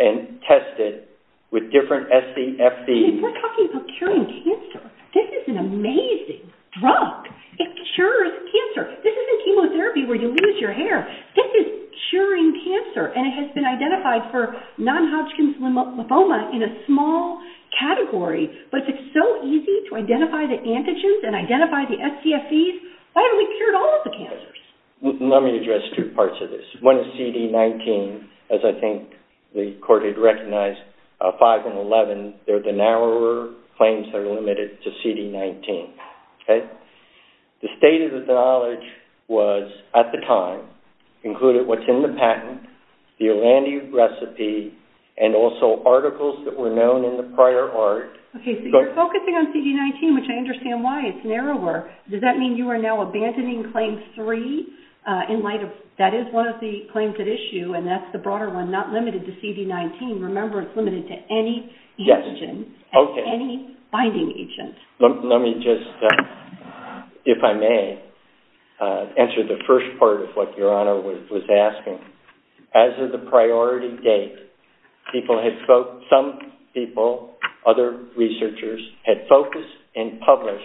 and tested with different SCFDs. We're talking about curing cancer. This is an amazing drug. It cures cancer. This isn't chemotherapy where you lose your hair. This is curing cancer, and it has been identified for non-Hodgkin's lymphoma in a small category, but it's so easy to identify the antigens and identify the SCFDs. Why haven't we cured all of the cancers? Let me address two parts of this. One is CD19, as I think the court had recognized. Five and 11, they're the narrower claims that are limited to CD19. The state of the knowledge was, at the time, included what's in the patent, the Orlando recipe, and also articles that were known in the prior art. Okay, so you're focusing on CD19, which I understand why. It's narrower. Does that mean you are now abandoning Claim 3 in light of that is one of the claims at issue, and that's the broader one, not limited to CD19. Remember, it's limited to any antigen and any finding agent. Let me just, if I may, answer the first part of what Your Honor was asking. As of the priority date, some people, other researchers, had focused and published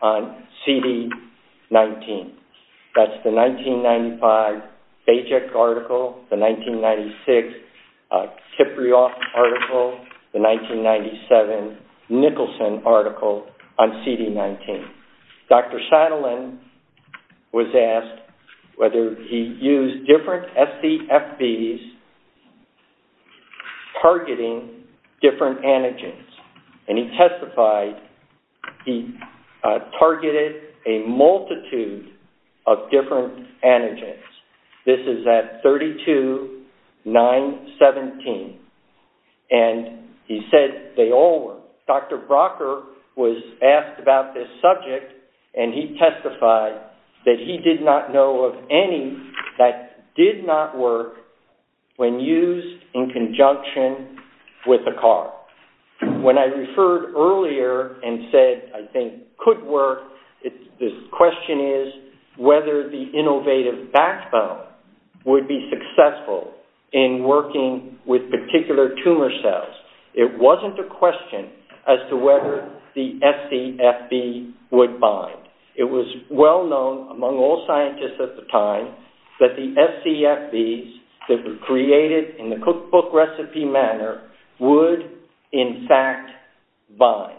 on CD19. That's the 1995 Bajek article, the 1996 Kipriot article, the 1997 Nicholson article on CD19. Dr. Shadaland was asked whether he used different SDFBs targeting different antigens, and he testified he targeted a multitude of different antigens. This is at 32-917, and he said they all work. Dr. Brocker was asked about this subject, and he testified that he did not know of any that did not work when used in conjunction with a car. When I referred earlier and said, I think, could work, the question is whether the innovative backbone would be successful in working with particular tumor cells. It wasn't a question as to whether the SDFB would bind. It was well known among all scientists at the time that the SDFBs that were created in the cookbook recipe manner would, in fact, bind.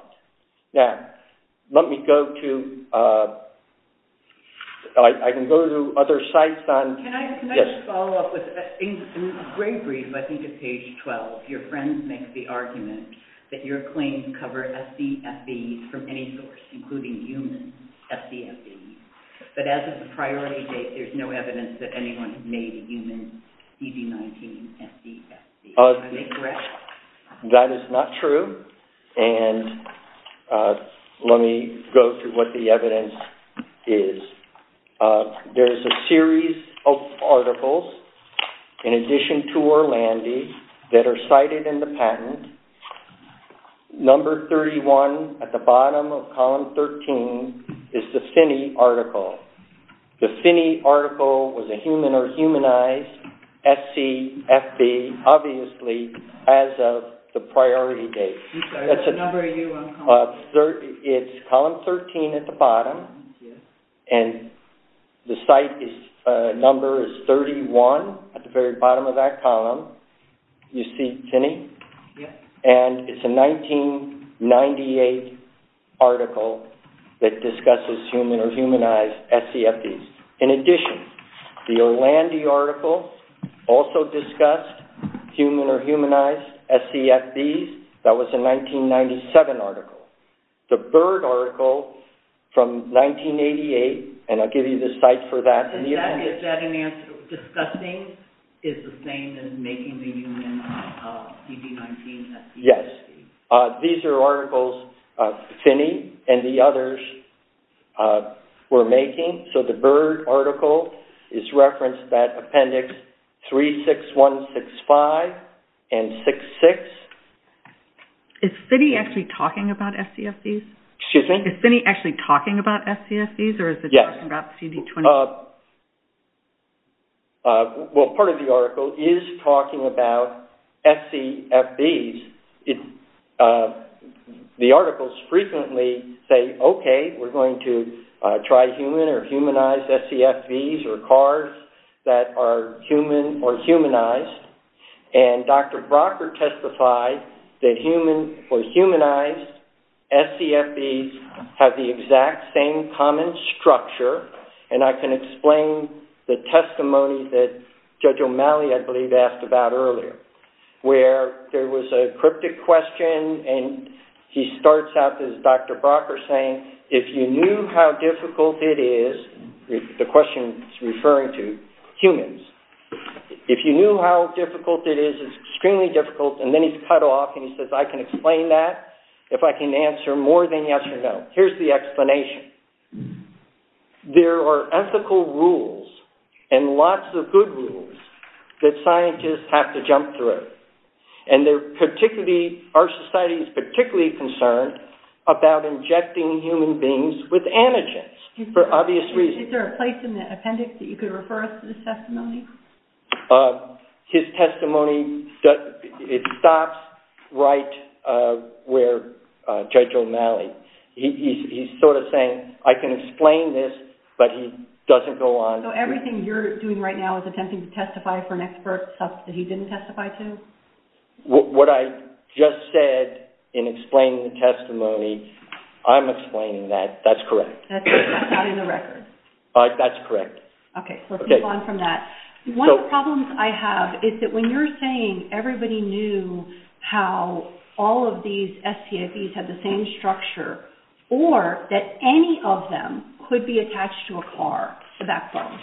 Now, let me go to... I can go to other sites on... Can I just follow up with... In Greybreed, let me do page 12. Your friend makes the argument that your claims cover SDFBs from any source, including humans, SDFBs. But as of the priority date, there's no evidence that anyone has made a human CD19 SDFB. Is that correct? That is not true. And let me go through what the evidence is. There's a series of articles, in addition to Orlandi, that are cited in the patent. Number 31 at the bottom of column 13 is the Finney article. The Finney article was a human or humanized SDFB, obviously, as of the priority date. It's column 13 at the bottom, and the site number is 31 at the very bottom of that column. You see Finney? And it's a 1998 article that discusses human or humanized SDFBs. In addition, the Orlandi article also discussed human or humanized SDFBs. That was a 1997 article. The Byrd article from 1988, and I'll give you the site for that. Is that an answer? Discussing is the same as making the human CD19 SDFB? Yes. These are articles Finney and the others were making. So the Byrd article is referenced by Appendix 36165 and 66. Is Finney actually talking about SDFBs? Excuse me? Is Finney actually talking about SDFBs, or is it talking about CD20? Well, part of the article is talking about SDFBs. The articles frequently say, okay, we're going to try human or humanized SDFBs or cards that are human or humanized. And Dr. Brocker testified that human or humanized SDFBs have the exact same common structure, as we talked about earlier, where there was a cryptic question and he starts out as Dr. Brocker saying, if you knew how difficult it is, the question is referring to humans. If you knew how difficult it is, it's extremely difficult, and then he cut off and he says, I can explain that if I can answer more than yes or no. Here's the explanation. There are ethical rules and lots of good rules that scientists have to jump through, and our society is particularly concerned about injecting human beings with antigens for obvious reasons. Is there a place in the appendix that you could refer us to this testimony? His testimony stops right where Judge O'Malley. He's sort of saying, I can explain this, but he doesn't go on. So everything you're doing right now is attempting to testify for an expert, stuff that he didn't testify to? What I just said in explaining the testimony, I'm explaining that. That's correct. That's not in the record. That's correct. Okay, let's move on from that. One of the problems I have is that when you're saying everybody knew how all of these STFEs had the same structure, or that any of them could be attached to a car backbone.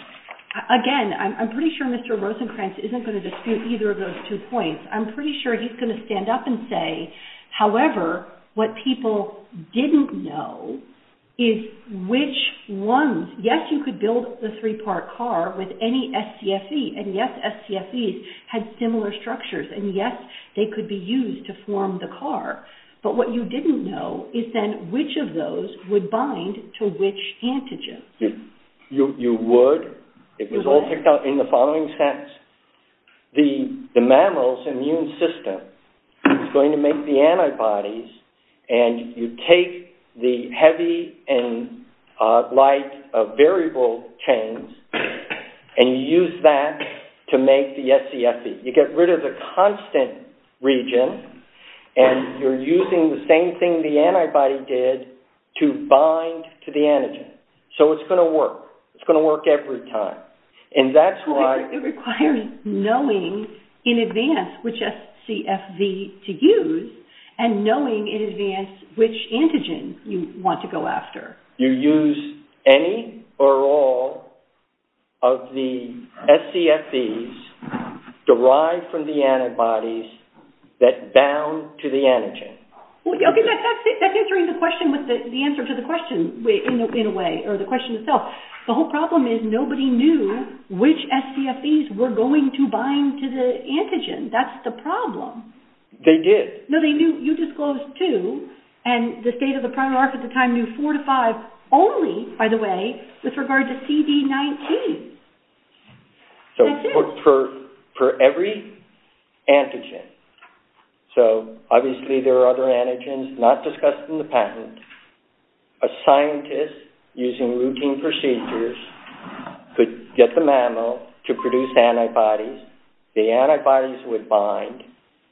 Again, I'm pretty sure Mr. Rosenkranz isn't going to dispute either of those two points. I'm pretty sure he's going to stand up and say, however, what people didn't know is which ones. Yes, you could build a three-part car with any STFE, and yes, STFEs had similar structures, and yes, they could be used to form the car. But what you didn't know is then which of those would bind to which antigen. You would. It was all picked up in the following steps. The mammal's immune system is going to make the antibodies, and you take the heavy and light variable chains and you use that to make the STFEs. You get rid of the constant region, and you're using the same thing the antibody did to bind to the antigen. So it's going to work. It's going to work every time. It requires knowing in advance which STFE to use and knowing in advance which antigen you want to go after. You use any or all of the STFEs derived from the antibodies that bound to the antigen. That's answering the question with the answer to the question, in a way, or the question itself. The whole problem is nobody knew which STFEs were going to bind to the antigen. That's the problem. They did. No, you disclosed two, and the state of the prime market at the time knew four to five only, by the way, with regard to CD19. So for every antigen, so obviously there are other antigens not discussed in the patent, a scientist using routine procedures could get the mammal to produce antibodies. The antibodies would bind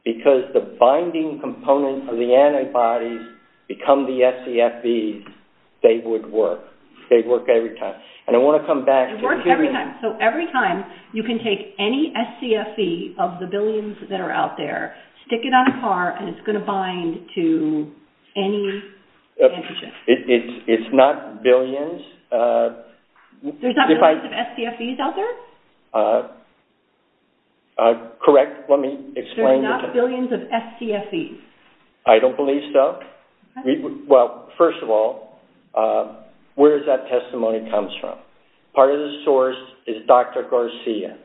because the binding components of the antibodies become the STFEs. They would work. They work every time. And I want to come back. It works every time. So every time you can take any STFE of the billions that are out there, stick it on a car, and it's going to bind to any antigen. It's not billions. There's not billions of STFEs out there? Correct. Let me explain. There's not billions of STFEs? I don't believe so. Well, first of all, where does that testimony come from? Part of the source is Dr. Garcia,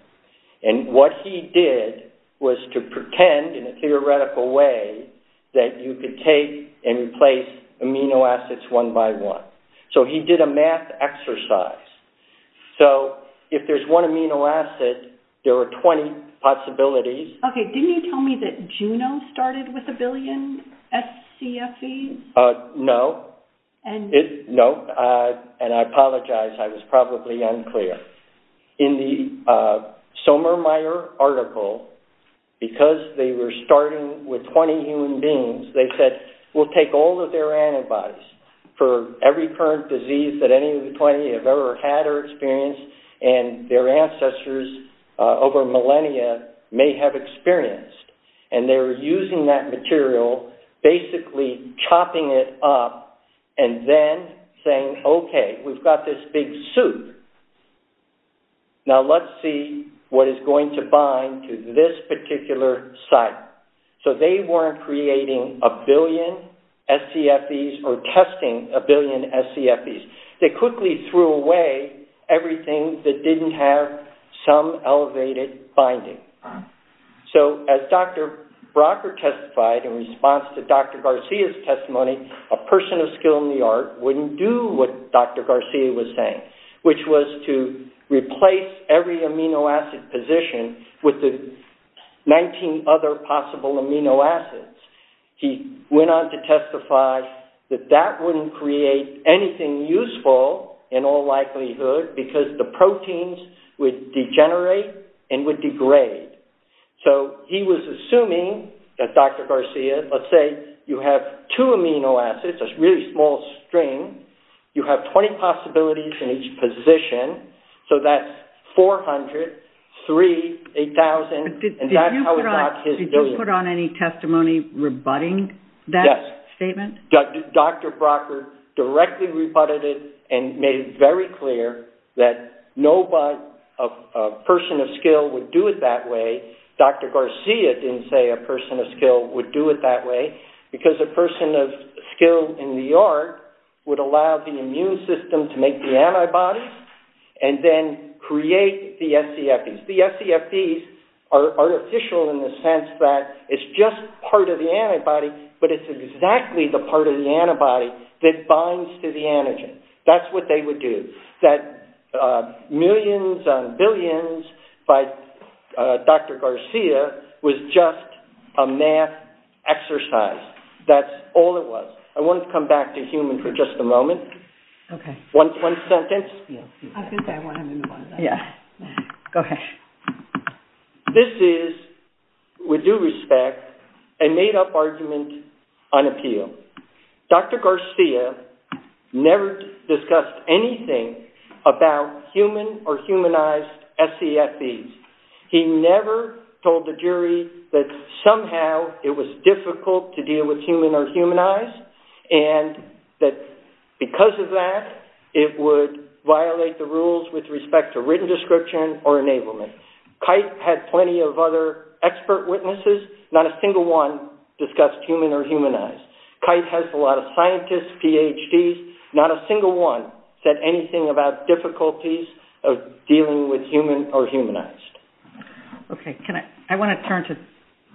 and what he did was to pretend in a theoretical way that you could take and replace amino acids one by one. So he did a math exercise. So if there's one amino acid, there are 20 possibilities. Okay. Didn't you tell me that Juno started with a billion STFEs? No. And I apologize. I was probably unclear. In the Sommermeier article, because they were starting with 20 human beings, they said, we'll take all of their antibodies for every current disease that any of the 20 have ever had or experienced and their ancestors over millennia may have experienced. And they were using that material, basically chopping it up and then saying, okay, we've got this big soup. Now let's see what is going to bind to this particular site. So they weren't creating a billion STFEs or testing a billion STFEs. They quickly threw away everything that didn't have some elevated binding. So as Dr. Brocker testified in response to Dr. Garcia's testimony, a person of skill in the art wouldn't do what Dr. Garcia was saying, which was to replace every amino acid position with the 19 other possible amino acids. He went on to testify that that wouldn't create anything useful in all likelihood because the proteins would degenerate and would degrade. So he was assuming that Dr. Garcia, let's say you have two amino acids, a really small string. You have 20 possibilities in each position. So that's 400, 3, 8,000. Did you put on any testimony rebutting that statement? Yes. Dr. Brocker directly rebutted it and made it very clear that no person of skill would do it that way. Dr. Garcia didn't say a person of skill would do it that way because a person of skill in the art would allow the immune system to make the antibodies and then create the SCFs. The SCFs are artificial in the sense that it's just part of the antibody, but it's exactly the part of the antibody that binds to the antigen. That's what they would do. That millions and billions by Dr. Garcia was just a math exercise. I want to come back to human for just a moment. One sentence. This is, with due respect, a made-up argument on appeal. Dr. Garcia never discussed anything about human or humanized SCFs. He never told the jury that somehow it was difficult to deal with human or humanized and that because of that, it would violate the rules with respect to written description or enablement. Kite had plenty of other expert witnesses. Not a single one discussed human or humanized. Kite has a lot of scientists, PhDs. Not a single one said anything about difficulties of dealing with human or humanized. I want to turn to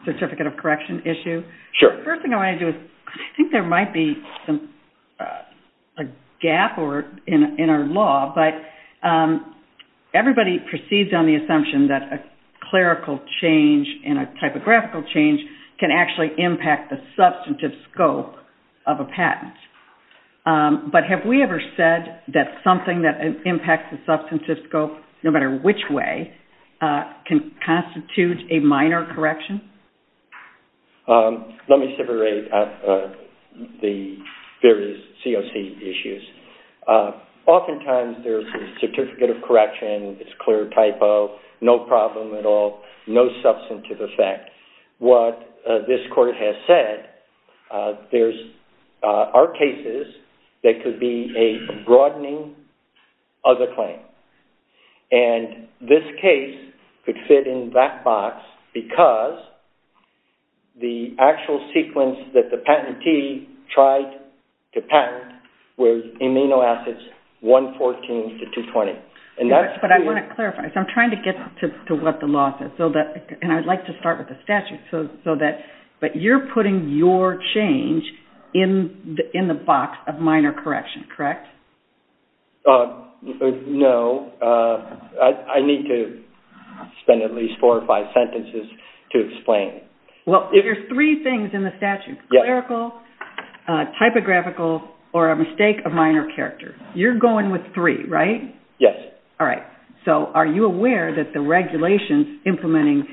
the certificate of correction issue. Sure. The first thing I want to do is, I think there might be a gap in our law, but everybody proceeds on the assumption that a clerical change and a typographical change can actually impact the substantive scope of a patent. But have we ever said that something that impacts the substantive scope, no matter which way, can constitute a minor correction? Let me separate the various COC issues. Oftentimes there's a certificate of correction, it's clear typo, no problem at all, no substantive effect. What this court has said, there are cases that could be a broadening of the claim. And this case could fit in that box because the actual sequence that the patentee tried to patent was amino acids 114 to 220. But I want to clarify. I'm trying to get to what the law says. And I would like to start with the statute. But you're putting your change in the box of minor correction, correct? No. I need to spend at least four or five sentences to explain. Well, there's three things in the statute, clerical, typographical, or a mistake of minor character. You're going with three, right? Yes. All right. So are you aware that the regulations implementing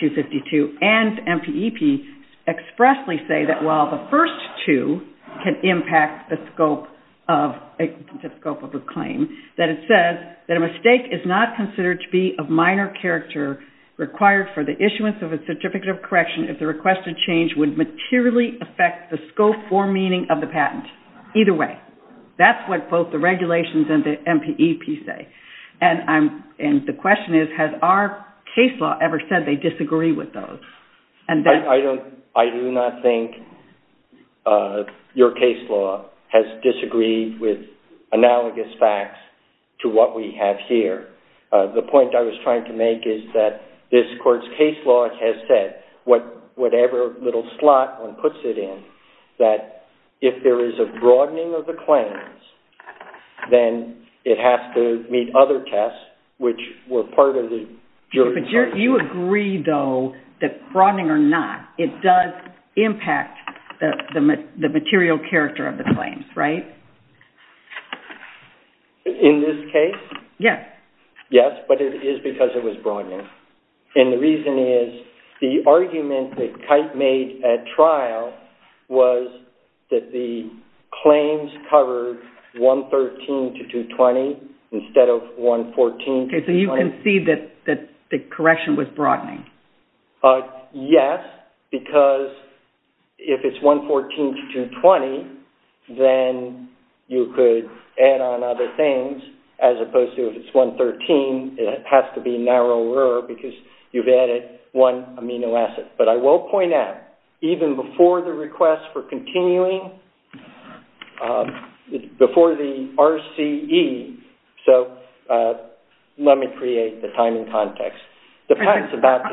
252 and MPEP expressly say that while the first two can impact the scope of a claim, that it says that a mistake is not considered to be of minor character required for the issuance of a certificate of correction if the requested change would materially affect the scope or meaning of the patent? Either way, that's what both the regulations and the MPEP say. And the question is, has our case law ever said they disagree with those? I do not think your case law has disagreed with analogous facts to what we have here. The point I was trying to make is that this court's case law has said whatever little slot one puts it in, that if there is a broadening of the claims, then it has to meet other tests, which were part of the jury's... But you agree, though, that broadening or not, it does impact the material character of the claims, right? In this case? Yes. Yes, but it is because it was broadening. And the reason is the argument that Kite made at trial was that the claims covered 113 to 220 instead of 114 to 220. So you concede that the correction was broadening? Yes, because if it's 114 to 220, then you could add on other things, as opposed to if it's 113, it has to be narrower because you've added one amino acid. But I will point out, even before the request for continuing, before the RCE, so let me create the timing context. Doesn't the fact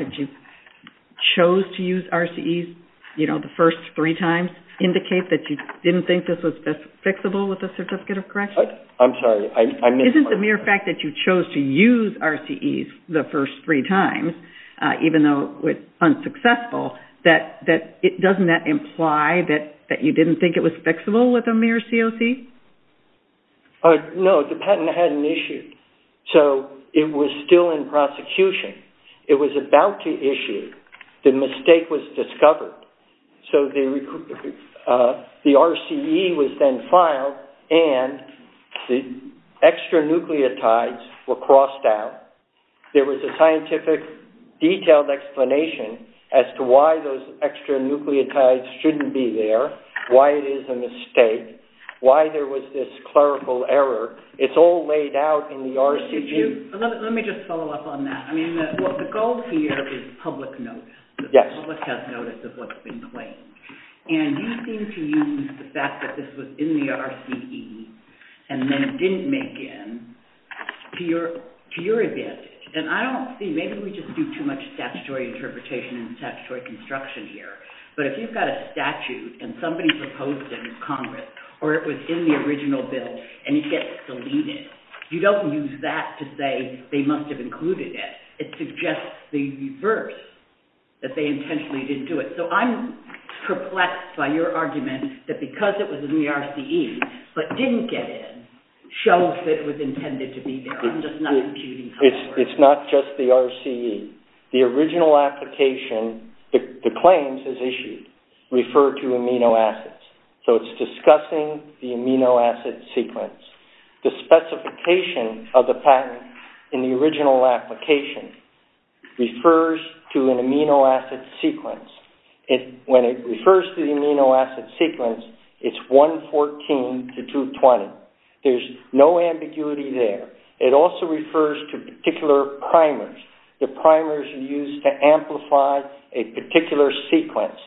that you chose to use RCEs the first three times indicate that you didn't think this was fixable with the certificate of correction? I'm sorry. Isn't the mere fact that you chose to use RCEs the first three times, even though it was unsuccessful, doesn't that imply that you didn't think it was fixable with a mere COC? No, the patent had an issue. So it was still in prosecution. It was about to issue. The mistake was discovered. The RCE was then filed, and the extra nucleotides were crossed out. There was a scientific detailed explanation as to why those extra nucleotides shouldn't be there, why it is a mistake, why there was this clerical error. It's all laid out in the RCE. Let me just follow up on that. I mean, the goal here is public notice. The public has notice of what's been claimed. And you seem to use the fact that this was in the RCE and then didn't make it to your event. And I don't see, maybe we just do too much statutory interpretation and statutory construction here, but if you've got a statute and somebody proposed it in Congress or it was in the original bill and it gets deleted, you don't use that to say they must have included it. It suggests the reverse, that they intentionally didn't do it. So I'm perplexed by your argument that because it was in the RCE, but didn't get in, shows that it was intended to be there. I'm just not competing. It's not just the RCE. The original application, the claims is issued, refer to amino acids. So it's discussing the amino acid sequence. The specification of the patent in the original application refers to an amino acid sequence. When it refers to the amino acid sequence, it's 114 to 220. There's no ambiguity there. It also refers to particular primers, the primers you use to amplify a particular sequence.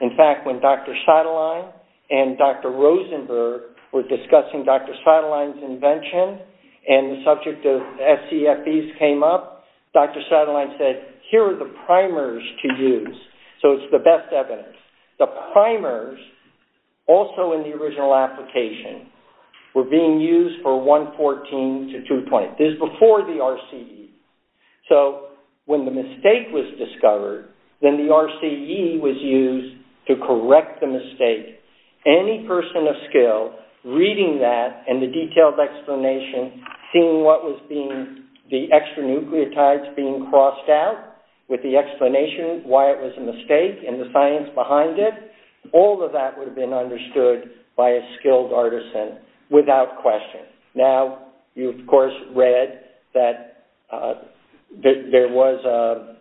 In fact, when Dr. Satterlein and Dr. Rosenberg were discussing Dr. Satterlein's invention and the subject of SCFEs came up, Dr. Satterlein said, here are the primers to use. So it's the best evidence. The primers, also in the original application, were being used for 114 to 220. This is before the RCE. So when the mistake was discovered, then the RCE was used to correct the mistake. Any person of skill reading that and the detailed explanation, seeing what was being, the extra nucleotides being crossed out, with the explanation why it was a mistake and the science behind it, all of that would have been understood by a skilled artisan without question. Now, you of course read that there was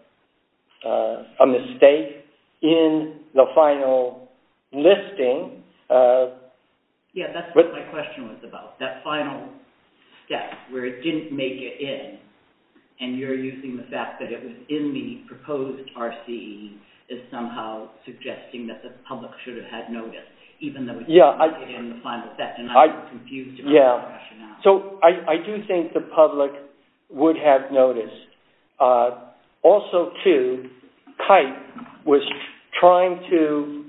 a mistake in the final listing. Yeah, that's what my question was about. That final step where it didn't make it in and you're using the fact that it was in the proposed RCE as somehow suggesting that the public should have had noticed, even though it was in the final step and I was confused about the rationale. So I do think the public would have noticed. Also, too, Kite was trying to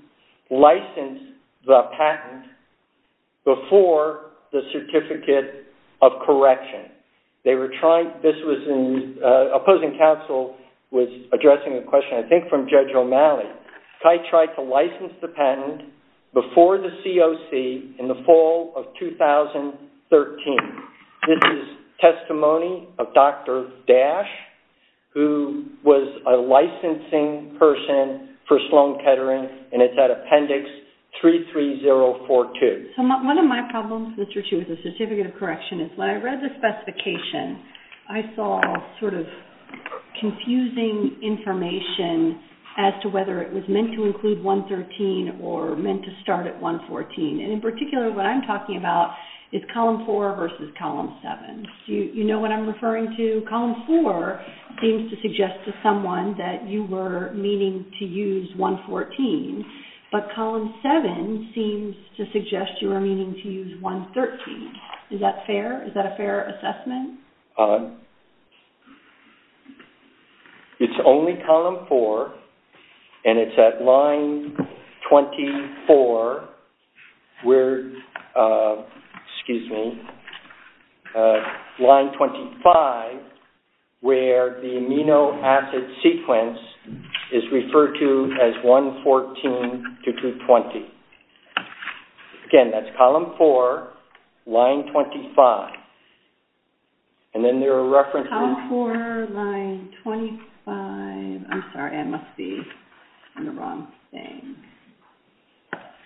license the patent before the certificate of correction. They were trying, this was in, opposing counsel was addressing the question, I think from Judge O'Malley. Kite tried to license the patent before the COC in the fall of 2013. This is testimony of Dr. Dash, who was a licensing person for Sloan Kettering and it's at appendix 33042. One of my problems with the certificate of correction is when I read the specification, I saw sort of confusing information as to whether it was meant to include 113 or meant to start at 114. In particular, what I'm talking about is column four versus column seven. Do you know what I'm referring to? Column four seems to suggest to someone that you were meaning to use 114, but column seven seems to suggest you were meaning to use 113. Is that fair? Is that a fair assessment? It's only column four and it's at line 24, excuse me, line 25, where the amino acid sequence is referred to as 114 to 220. Again, that's column four, line 25. And then there are references... Column four, line 25. I'm sorry, I must be on the wrong thing.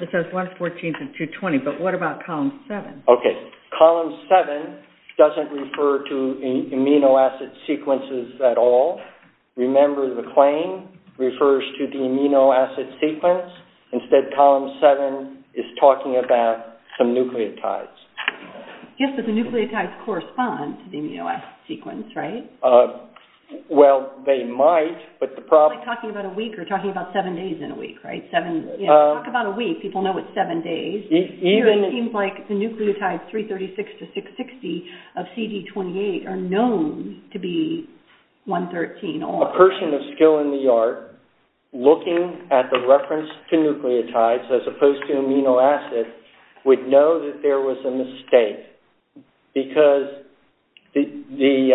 It says 114 to 220, but what about column seven? Okay, column seven doesn't refer to amino acid sequences at all. Remember, the claim refers to the amino acid sequence. Instead, column seven is talking about some nucleotides. Yes, but the nucleotides correspond to the amino acid sequence, right? Well, they might, but the problem... It's like talking about a week or talking about seven days in a week, right? Talk about a week, people know it's seven days. It seems like the nucleotides 336 to 660 of CD28 are known to be 113 or... A person of skill in the art looking at the reference to nucleotides as opposed to amino acid would know that there was a mistake because the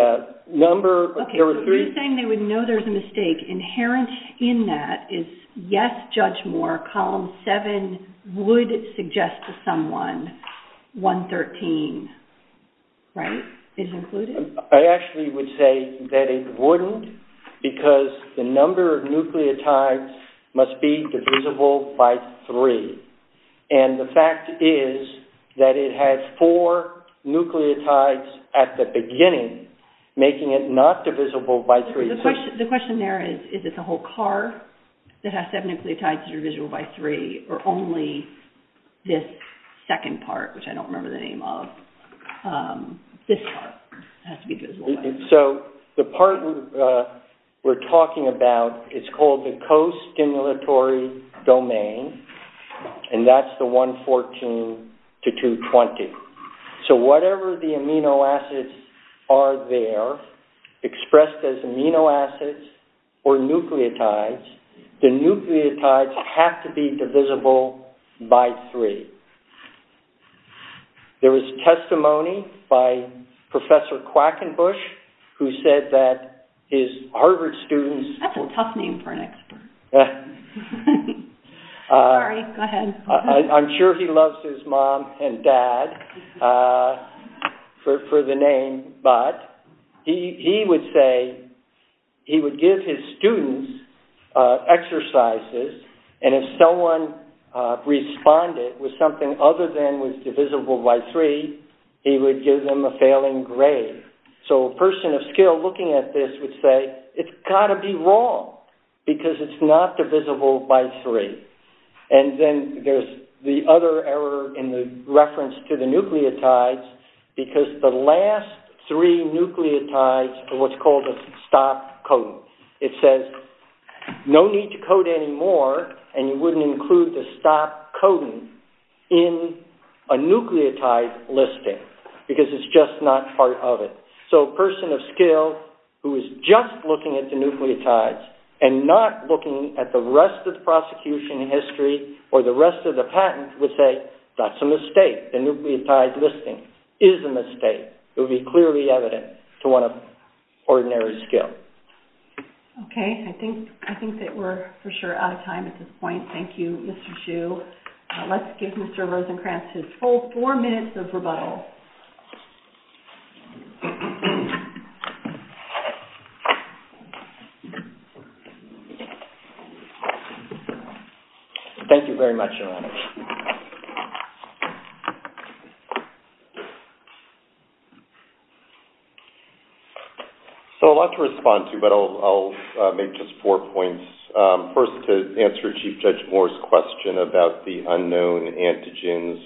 number... Okay, so you're saying they would know there's a mistake. Inherent in that is, yes, Judge Moore, column seven would suggest to someone 113, right? Is included? I actually would say that it wouldn't because the number of nucleotides must be divisible by three. And the fact is that it has four nucleotides at the beginning, making it not divisible by three. The question there is, is it the whole car that has seven nucleotides that are divisible by three or only this second part, which I don't remember the name of. This part has to be divisible by three. So the part we're talking about, it's called the costimulatory domain and that's the 114 to 220. So whatever the amino acids are there, expressed as amino acids or nucleotides, the nucleotides have to be divisible by three. There was testimony by Professor Quackenbush who said that his Harvard students... That's a tough name for an expert. Sorry, go ahead. I'm sure he loves his mom and dad for the name, but he would say he would give his students exercises and if someone responded with something other than was divisible by three, he would give them a failing grade. So a person of skill looking at this would say, it's got to be wrong because it's not divisible by three. And then there's the other error in the reference to the nucleotides because the last three nucleotides are what's called a stop codon. It says no need to code anymore and you wouldn't include the stop codon in a nucleotide listing because it's just not part of it. So a person of skill who is just looking at the nucleotides and not looking at the rest of the prosecution history or the rest of the patent would say, that's a mistake. The nucleotide listing is a mistake. It would be clearly evident to one of ordinary skill. Okay, I think that we're for sure out of time at this point. Thank you, Mr. Hsu. Let's give Mr. Rosenkranz his full four minutes of rebuttal. Thank you very much, Ellen. So a lot to respond to, but I'll make just four points. First, to answer Chief Judge Moore's question about the unknown antigens,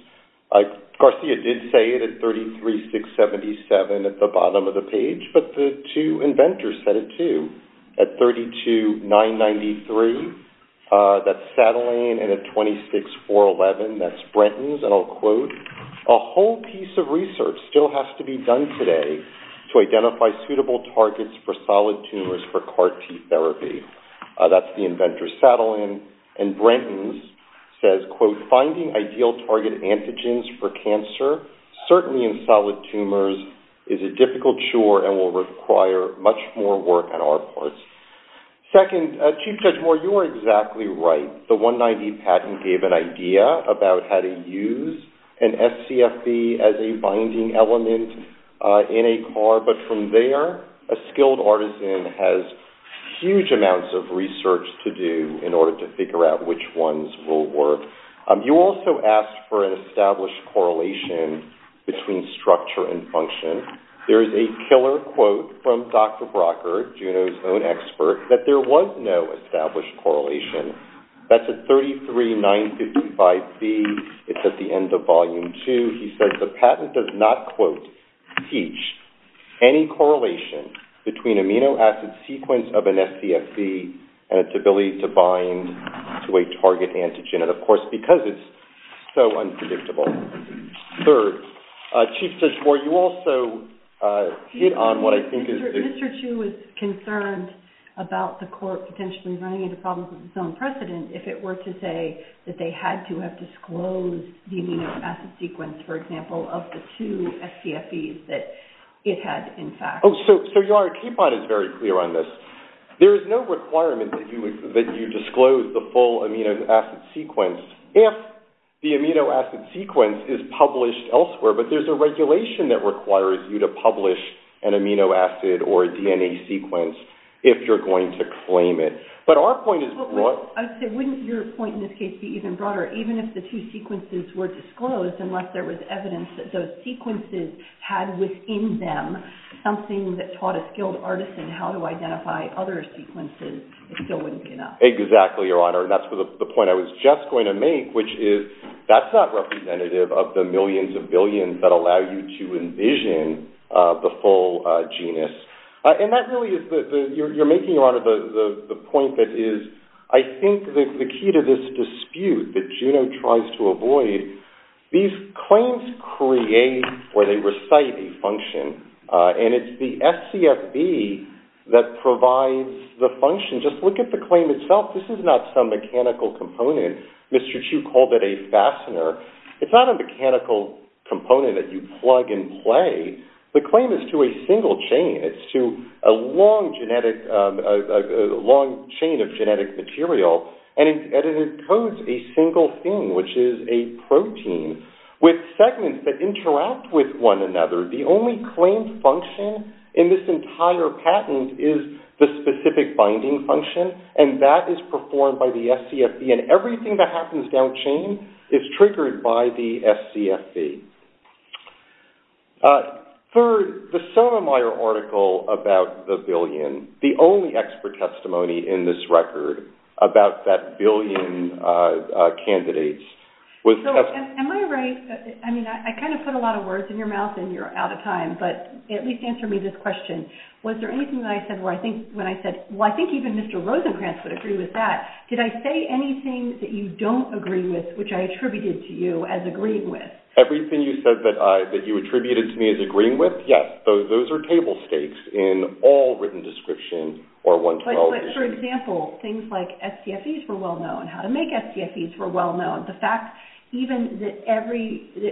Garcia did say it at 33.677 at the bottom of the page, but the two inventors said it too. At 32.993, that's satellite, and at 26.411, that's Brenton's. And I'll quote, a whole piece of research still has to be done today to identify suitable targets for solid tumors for CAR-T therapy. That's the inventors Satellin and Brenton's. It says, quote, finding ideal target antigens for cancer, certainly in solid tumors, is a difficult chore and will require much more work on our part. Second, Chief Judge Moore, you are exactly right. The 190 patent gave an idea about how to use an SCFB as a binding element in a CAR, but from there, a skilled artisan has huge amounts of research to do in order to figure out which ones will work. You also asked for an established correlation between structure and function. There is a killer quote from Dr. Brocker, Juno's own expert, that there was no established correlation. That's at 33.955C. It's at the end of volume two. He says, the patent does not, quote, teach any correlation between amino acid sequence of an SCFB and its ability to bind to a target antigen. And, of course, because it's so unpredictable. Third, Chief Judge Moore, you also hit on what I think is... Mr. Chu is concerned about the court potentially running into problems with its own precedent if it were to say that they had to have disclosed the amino acid sequence, for example, of the two SCFEs that it had in fact... Oh, so Yara Keepon is very clear on this. There is no requirement that you disclose the full amino acid sequence if the amino acid sequence is published elsewhere. But there's a regulation that requires you to publish an amino acid or DNA sequence if you're going to claim it. But our point is... Wouldn't your point in this case be even broader? Even if the two sequences were disclosed, unless there was evidence that those sequences had within them something that taught a skilled artisan how to identify other sequences, it still wouldn't be enough. Exactly, Your Honor. And that's the point I was just going to make, which is that's not representative of the millions of billions that allow you to envision the full genus. And that really is... You're making, Your Honor, the point that is... I think that the key to this dispute that genome tries to avoid, these claims create or they recite a function. And it's the FCFB that provides the function. Just look at the claim itself. This is not some mechanical component. Mr. Chu called it a fastener. It's not a mechanical component that you plug and play. The claim is to a single chain. It's to a long chain of genetic material. And it encodes a single thing, which is a protein, with segments that interact with one another. The only claimed function in this entire patent is the specific binding function, and that is performed by the FCFB. And everything that happens down chain is triggered by the FCFB. Third, the Sotomayor article about the billion, the only expert testimony in this record about that billion candidates... Am I right? I mean, I kind of put a lot of words in your mouth and you're out of time, but at least answer me this question. Was there anything that I said where I think... When I said, well, I think even Mr. Rosenkranz would agree with that. Did I say anything that you don't agree with, which I attributed to you as agreeing with? Everything you said that you attributed to me as agreeing with? Yes, those are table stakes in all written description or 112. But for example, things like FCFBs were well known. How to make FCFBs were well known. The fact even that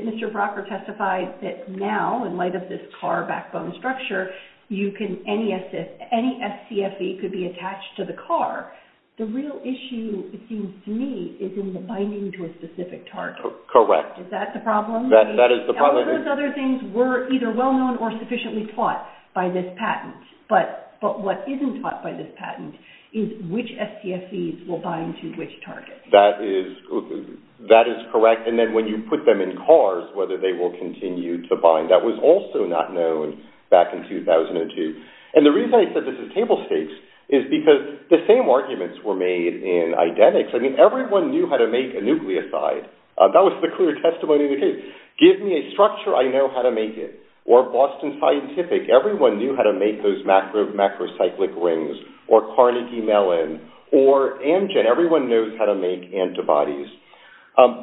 Mr. Brockert testified that now in light of this car backbone structure, any FCFB could be attached to the car. The real issue, it seems to me, is in the binding to a specific target. Correct. Is that the problem? That is the problem. Those other things were either well known or sufficiently taught by this patent. But what isn't taught by this patent is which FCFBs will bind to which target. That is correct. And then when you put them in cars, whether they will continue to bind. That was also not known back in 2002. And the reason I said this is table stakes is because the same arguments were made in identics. I mean, everyone knew how to make a nucleoside. That was the clear testimony we did. Give me a structure, I know how to make it. Or Boston Scientific, everyone knew how to make those macrocyclic rings. Or Carnegie Mellon. Or Amgen. Everyone knows how to make antibodies.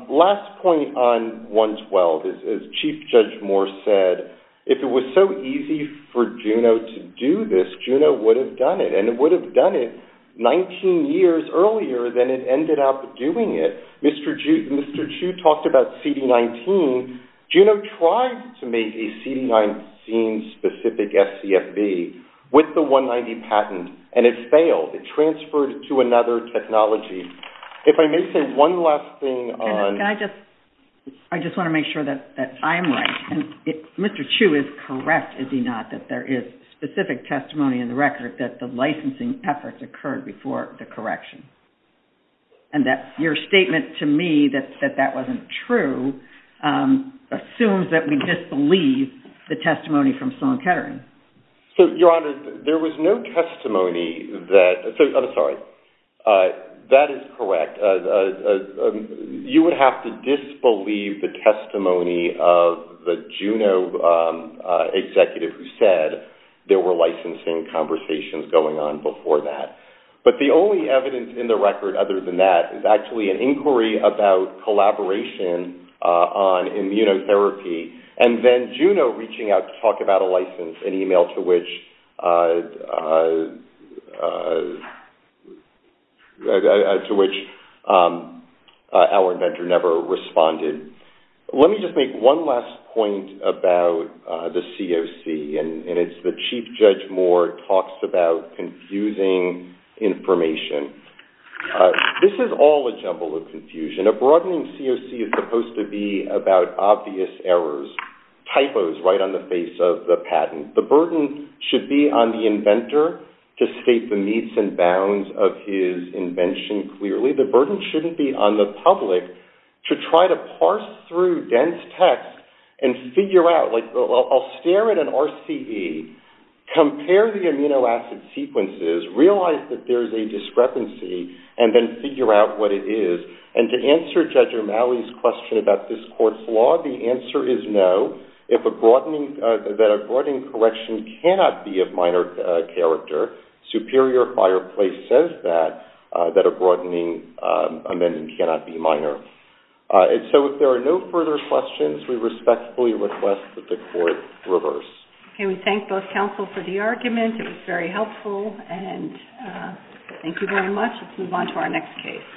Last point on 112. As Chief Judge Moore said, if it was so easy for Juno to do this, Juno would have done it. And it would have done it 19 years earlier than it ended up doing it. Mr. Chu talked about CD19. Juno tried to make a CD19-specific FCFB with the 190 patent, and it failed. It transferred to another technology. If I may say one last thing on... Can I just... I just want to make sure that I'm right. Mr. Chu is correct, is he not, that there is specific testimony in the record that the licensing efforts occurred before the correction. And that your statement to me that that wasn't true assumes that we disbelieve the testimony from Sloan Kettering. Your Honor, there was no testimony that... I'm sorry. That is correct. You would have to disbelieve the testimony of the Juno executive who said there were licensing conversations going on before that. But the only evidence in the record other than that is actually an inquiry about collaboration on immunotherapy, and then Juno reaching out to talk about a license, an email to which... to which our inventor never responded. Let me just make one last point about the COC, and it's the Chief Judge Moore talks about confusing information. This is all a jumble of confusion. A broadening COC is supposed to be about obvious errors, typos right on the face of the patent. The burden should be on the inventor to state the meets and bounds of his invention clearly. The burden shouldn't be on the public to try to parse through dense text and figure out, like... I'll stare at an RCE, compare the amino acid sequences, realize that there is a discrepancy, and then figure out what it is. And to answer Judge Romali's question about this court's law, the answer is no. If a broadening... that a broadening correction cannot be of minor character, Superior Fireplace says that, that a broadening amendment cannot be minor. And so if there are no further questions, we respectfully request that the court reverse. Okay, we thank both counsel for the argument. It was very helpful, and thank you very much. Let's move on to our next case.